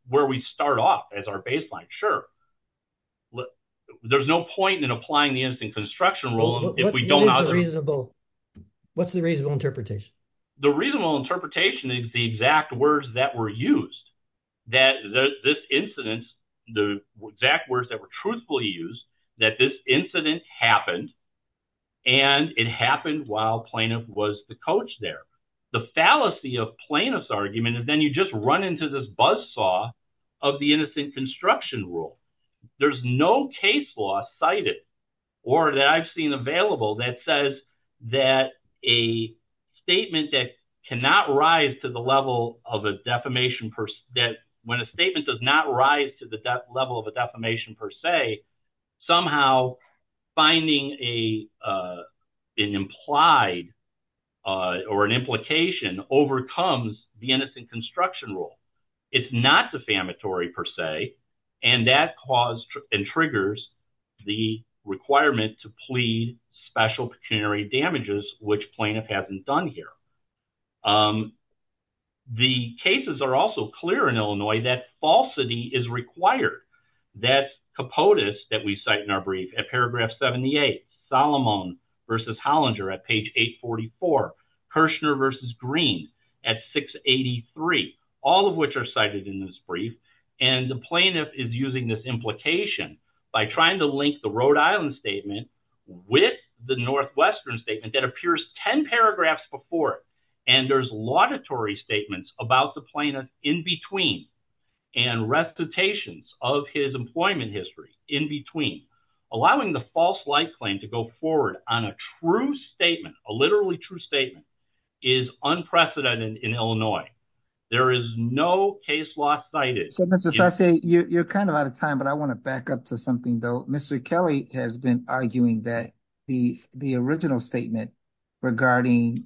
where we start off as our baseline. Sure. There's no point in applying the innocent construction rule if we don't... What's the reasonable interpretation? The reasonable interpretation is the exact words that were used, that this incident, the exact words that were truthfully used, that this incident happened, and it happened while plaintiff was the coach there. The fallacy of plaintiff's argument is then you just run into this buzzsaw of the innocent construction rule. There's no case law cited or that I've seen available that says that a statement that cannot rise to the level of a defamation per se, that when a statement does not rise to the level of a defamation per se, somehow finding an implied or an implication overcomes the innocent construction rule. It's not defamatory per se, and that caused and triggers the requirement to plead special pecuniary damages, which plaintiff hasn't done here. The cases are also clear in Illinois that falsity is required. That's Kirshner v. Green at 683, all of which are cited in this brief, and the plaintiff is using this implication by trying to link the Rhode Island statement with the Northwestern statement that appears 10 paragraphs before it, and there's laudatory statements about the plaintiff in between and recitations of his employment history in between, allowing the false light claim to go forward on a true statement, a literally true statement, is unprecedented in Illinois. There is no case law cited. So Mr. Sasse, you're kind of out of time, but I want to back up to something though. Mr. Kelly has been arguing that the original statement regarding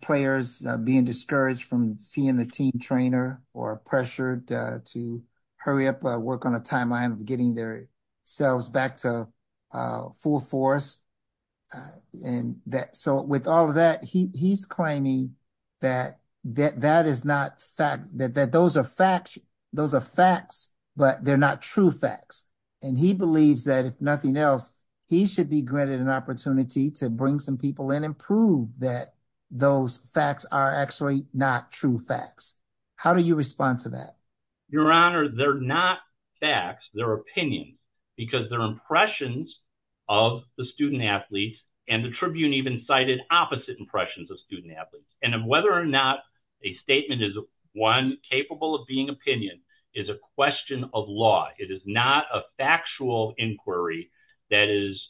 players being discouraged from seeing the team trainer or pressured to hurry up, work on a timeline of sales back to full force. So with all of that, he's claiming that those are facts, but they're not true facts, and he believes that if nothing else, he should be granted an opportunity to bring some people in and prove that those facts are actually not true facts. How do you respond to that? Your Honor, they're not facts, they're opinions, because they're impressions of the student-athletes, and the Tribune even cited opposite impressions of student-athletes, and whether or not a statement is, one, capable of being opinion is a question of law. It is not a factual inquiry that is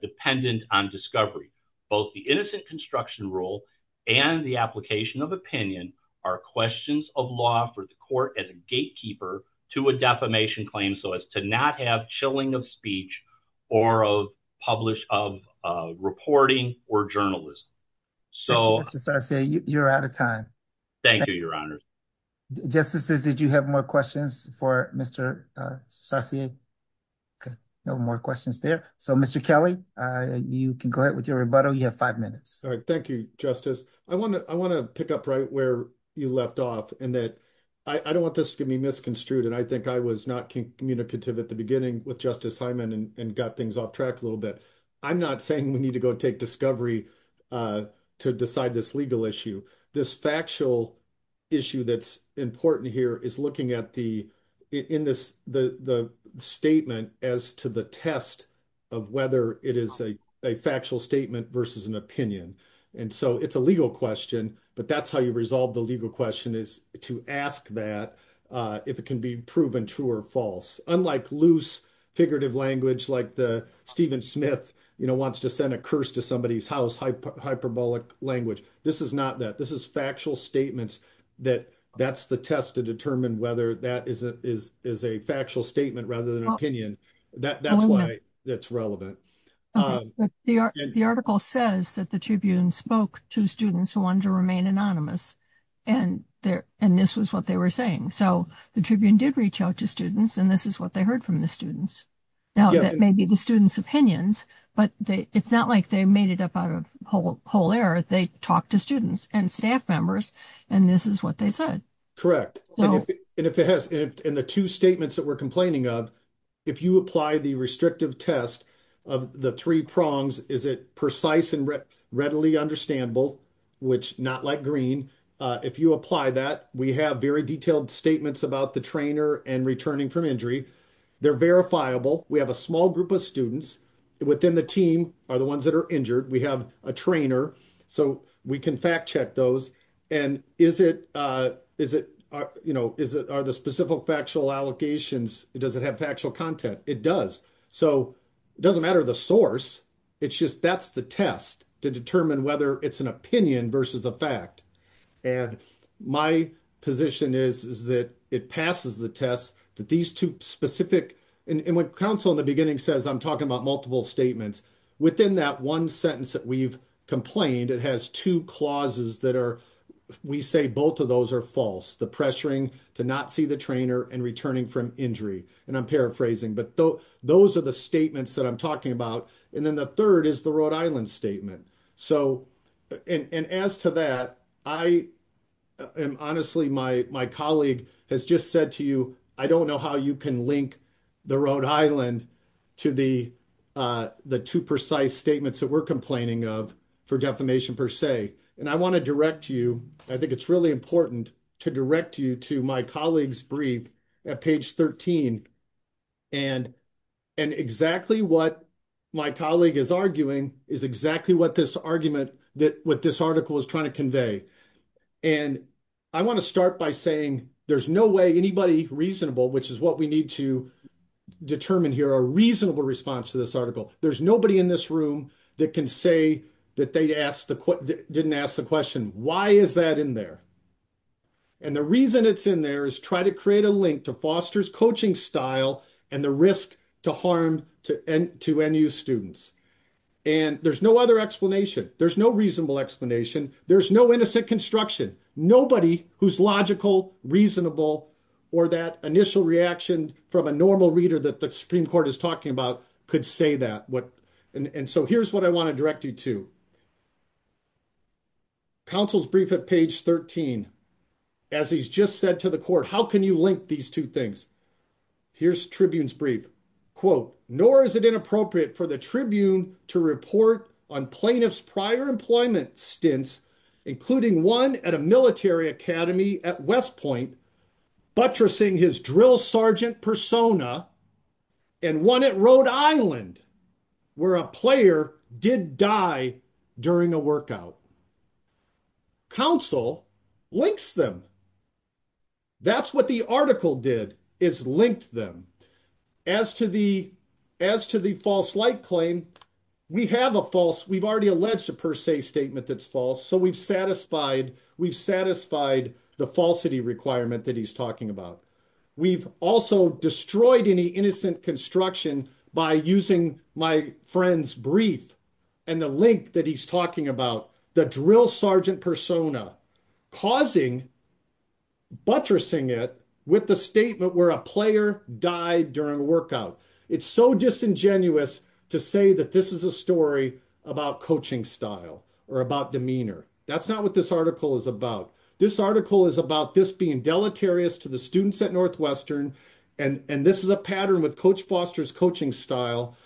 dependent on discovery. Both the innocent construction rule and the application of opinion are questions of law for the court as a gatekeeper to a defamation claim, so as to not have chilling of speech or of reporting or journalism. So, Mr. Sasse, you're out of time. Thank you, Your Honor. Justices, did you have more questions for Mr. Sasse? Okay, no more questions there. So Mr. Kelly, you can go ahead with your rebuttal. You have five minutes. All right, thank you, Justice. I want to pick up right where you left off, in that I don't want this to be misconstrued, and I think I was not communicative at the beginning with Justice Hyman and got things off track a little bit. I'm not saying we need to go take discovery to decide this legal issue. This factual issue that's important here is looking at the in this the statement as to the test of whether it is a factual statement versus an opinion. And so it's a legal question, but that's how you resolve the legal question is to ask that if it can be proven true or false. Unlike loose figurative language like the Stephen Smith, you know, wants to send a curse to somebody's house, hyperbolic language, this is not that. This is factual statements that that's the test to determine whether that is a factual statement rather than an opinion. That's why it's relevant. The article says that the Tribune spoke to students who wanted to remain anonymous, and this was what they were saying. So the Tribune did reach out to students, and this is what they heard from the students. Now that may be the students' opinions, but it's not like they made it up out of whole error. They talked to students, and staff members, and this is what they said. Correct. And if it has in the two statements that we're complaining of, if you apply the restrictive test of the three prongs, is it precise and readily understandable, which not like green. If you apply that, we have very detailed statements about the trainer and returning from injury. They're verifiable. We have a small group of within the team are the ones that are injured. We have a trainer, so we can fact check those. And is it, you know, are the specific factual allocations, does it have factual content? It does. So it doesn't matter the source. It's just that's the test to determine whether it's an opinion versus a fact. And my position is that it passes the test that these two specific, and when counsel in the beginning says I'm talking about multiple statements, within that one sentence that we've complained, it has two clauses that are, we say both of those are false. The pressuring to not see the trainer and returning from injury. And I'm paraphrasing, but those are the statements that I'm talking about. And then the third is the Rhode Island statement. So, and as to that, I am honestly, my colleague has just said to you, I don't know how you can link the Rhode Island to the two precise statements that we're complaining of for defamation per se. And I want to direct you, I think it's really important to direct you to my colleague's brief at page 13. And exactly what my colleague is arguing is exactly what this argument that, what this article is trying to convey. And I want to start by saying there's no way anybody reasonable, which is what we need to determine here, a reasonable response to this article. There's nobody in this room that can say that they didn't ask the question, why is that in there? And the reason it's in there is try to create a link to Foster's coaching style and the risk to harm to NU students. And there's no other explanation. There's no reasonable explanation. There's no innocent construction, nobody who's logical, reasonable, or that initial reaction from a normal reader that the Supreme Court is talking about could say that. And so here's what I want to direct you to. Counsel's brief at page 13, as he's just said to the court, how can you link these two things? Here's Tribune's brief, quote, nor is it inappropriate for the Tribune to report on plaintiff's prior employment stints, including one at a military academy at West Point, buttressing his drill sergeant persona and one at Rhode Island where a player did die during a workout. Counsel links them. That's what the article did, is linked them. As to the false light claim, we have a false, we've already alleged a per se statement that's false. So we've satisfied the falsity requirement that he's talking about. We've also destroyed any innocent construction by using my friend's brief and the link that he's talking about, the drill sergeant persona, causing buttressing it with the statement where a player died during a workout. It's so disingenuous to say that this is a story about coaching style or about demeanor. That's not what this article is about. This article is about this being deleterious to the students at Northwestern. And this is a pattern with Coach Foster's coaching style.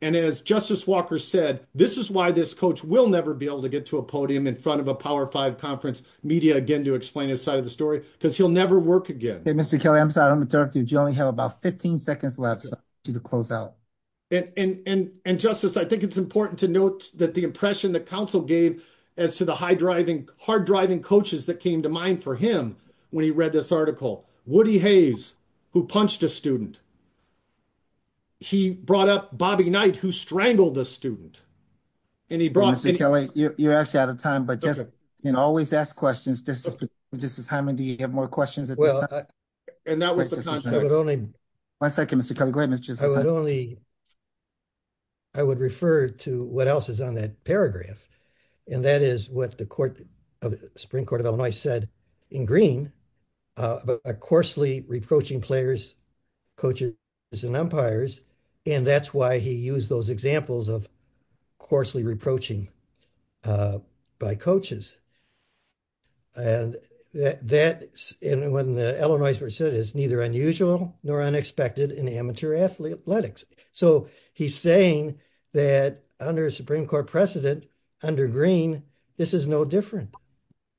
And as Justice Walker said, this is why this coach will never be able to get to a podium in front of a power five conference media again to explain his side of the story, because he'll never work again. Mr. Kelly, I'm sorry. I'm going to talk to you. You only have about 15 seconds left to close out. And Justice, I think it's important to note that the impression that counsel gave as to the hard driving coaches that came to mind for him when he read this article, Woody Hayes, who punched a student. He brought up Bobby Knight, who strangled a student. And he brought- Mr. Kelly, you're actually out of time, but just always ask questions. This is just a time and do you have more questions at this time? And that was the time- I would only- One second, Mr. Kelly. Go ahead, Mr. Justice. I would refer to what else is on that paragraph. And that is what the Supreme Court of Illinois said in green about coarsely reproaching players, coaches, and umpires. And that's why he used those examples of coarsely reproaching by coaches. And that, when the Illinois said, is neither unusual nor unexpected in amateur athletics. So he's saying that under a Supreme Court precedent, under green, this is no different.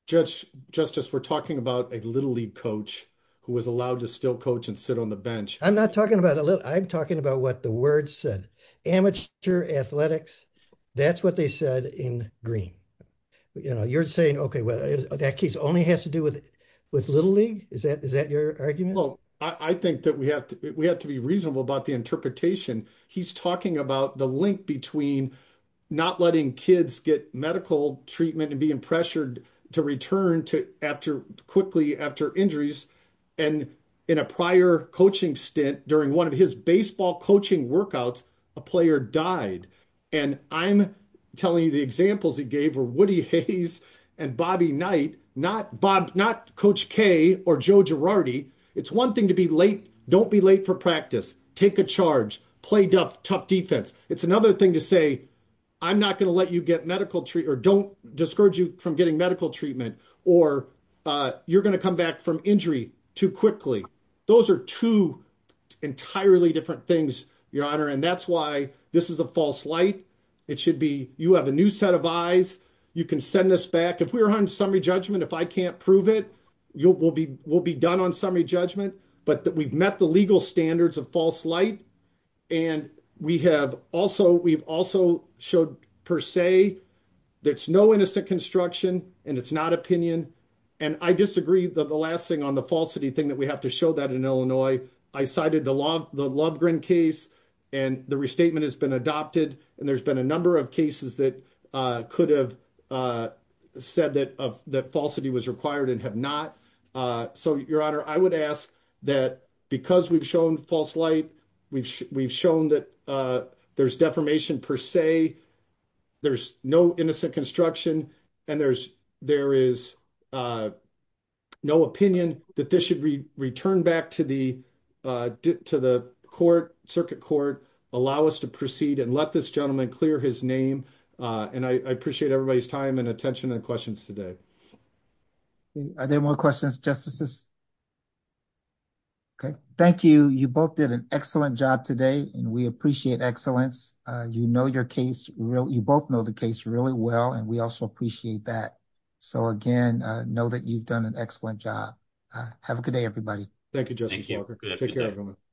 Justice, we're talking about a little league coach who was allowed to still coach and sit on the bench. I'm not talking about a little- I'm talking about what the word said. Amateur athletics, that's what they said in green. You know, you're saying, okay, well, that case only has to do with little league? Is that your argument? Well, I think that we have to be reasonable about the interpretation. He's talking about the link between not letting kids get medical treatment and being pressured to return to after- quickly after injuries. And in a prior coaching stint, during one of his baseball coaching workouts, a player died. And I'm telling you, the examples he gave were Woody Hayes and Bobby Knight, not Coach K or Joe Girardi. It's one thing to be late. Don't be late for practice. Take a charge. Play tough defense. It's another thing to say, I'm not going to let you get medical- or don't discourage you from getting medical treatment, or you're going to come back from injury too quickly. Those are two entirely different things, Your Honor. And that's why this is a false light. It should be, you have a new set of eyes. You can send this back. If we were on summary judgment, if I can't prove it, we'll be done on summary judgment. But we've met the legal standards of false light. And we have also, we've also showed per se, there's no innocent construction, and it's not opinion. And I disagree that the last thing on the falsity thing that we have to show that in Illinois, I cited the Love-Gren case, and the restatement has been adopted. And there's been a number of cases that could have said that falsity was required and have not. So, Your Honor, I would ask that because we've shown false light, we've shown that there's defamation per se, there's no innocent construction, and there is no opinion that this should return back to the court, circuit court, allow us to proceed and let this gentleman clear his name. And I appreciate everybody's time and attention and questions today. Okay. Are there more questions, Justices? Okay. Thank you. You both did an excellent job today, and we appreciate excellence. You know your case, you both know the case really well, and we also appreciate that. So again, know that you've done an excellent job. Have a good day, everybody. Thank you, Justice Walker. Take care, everyone.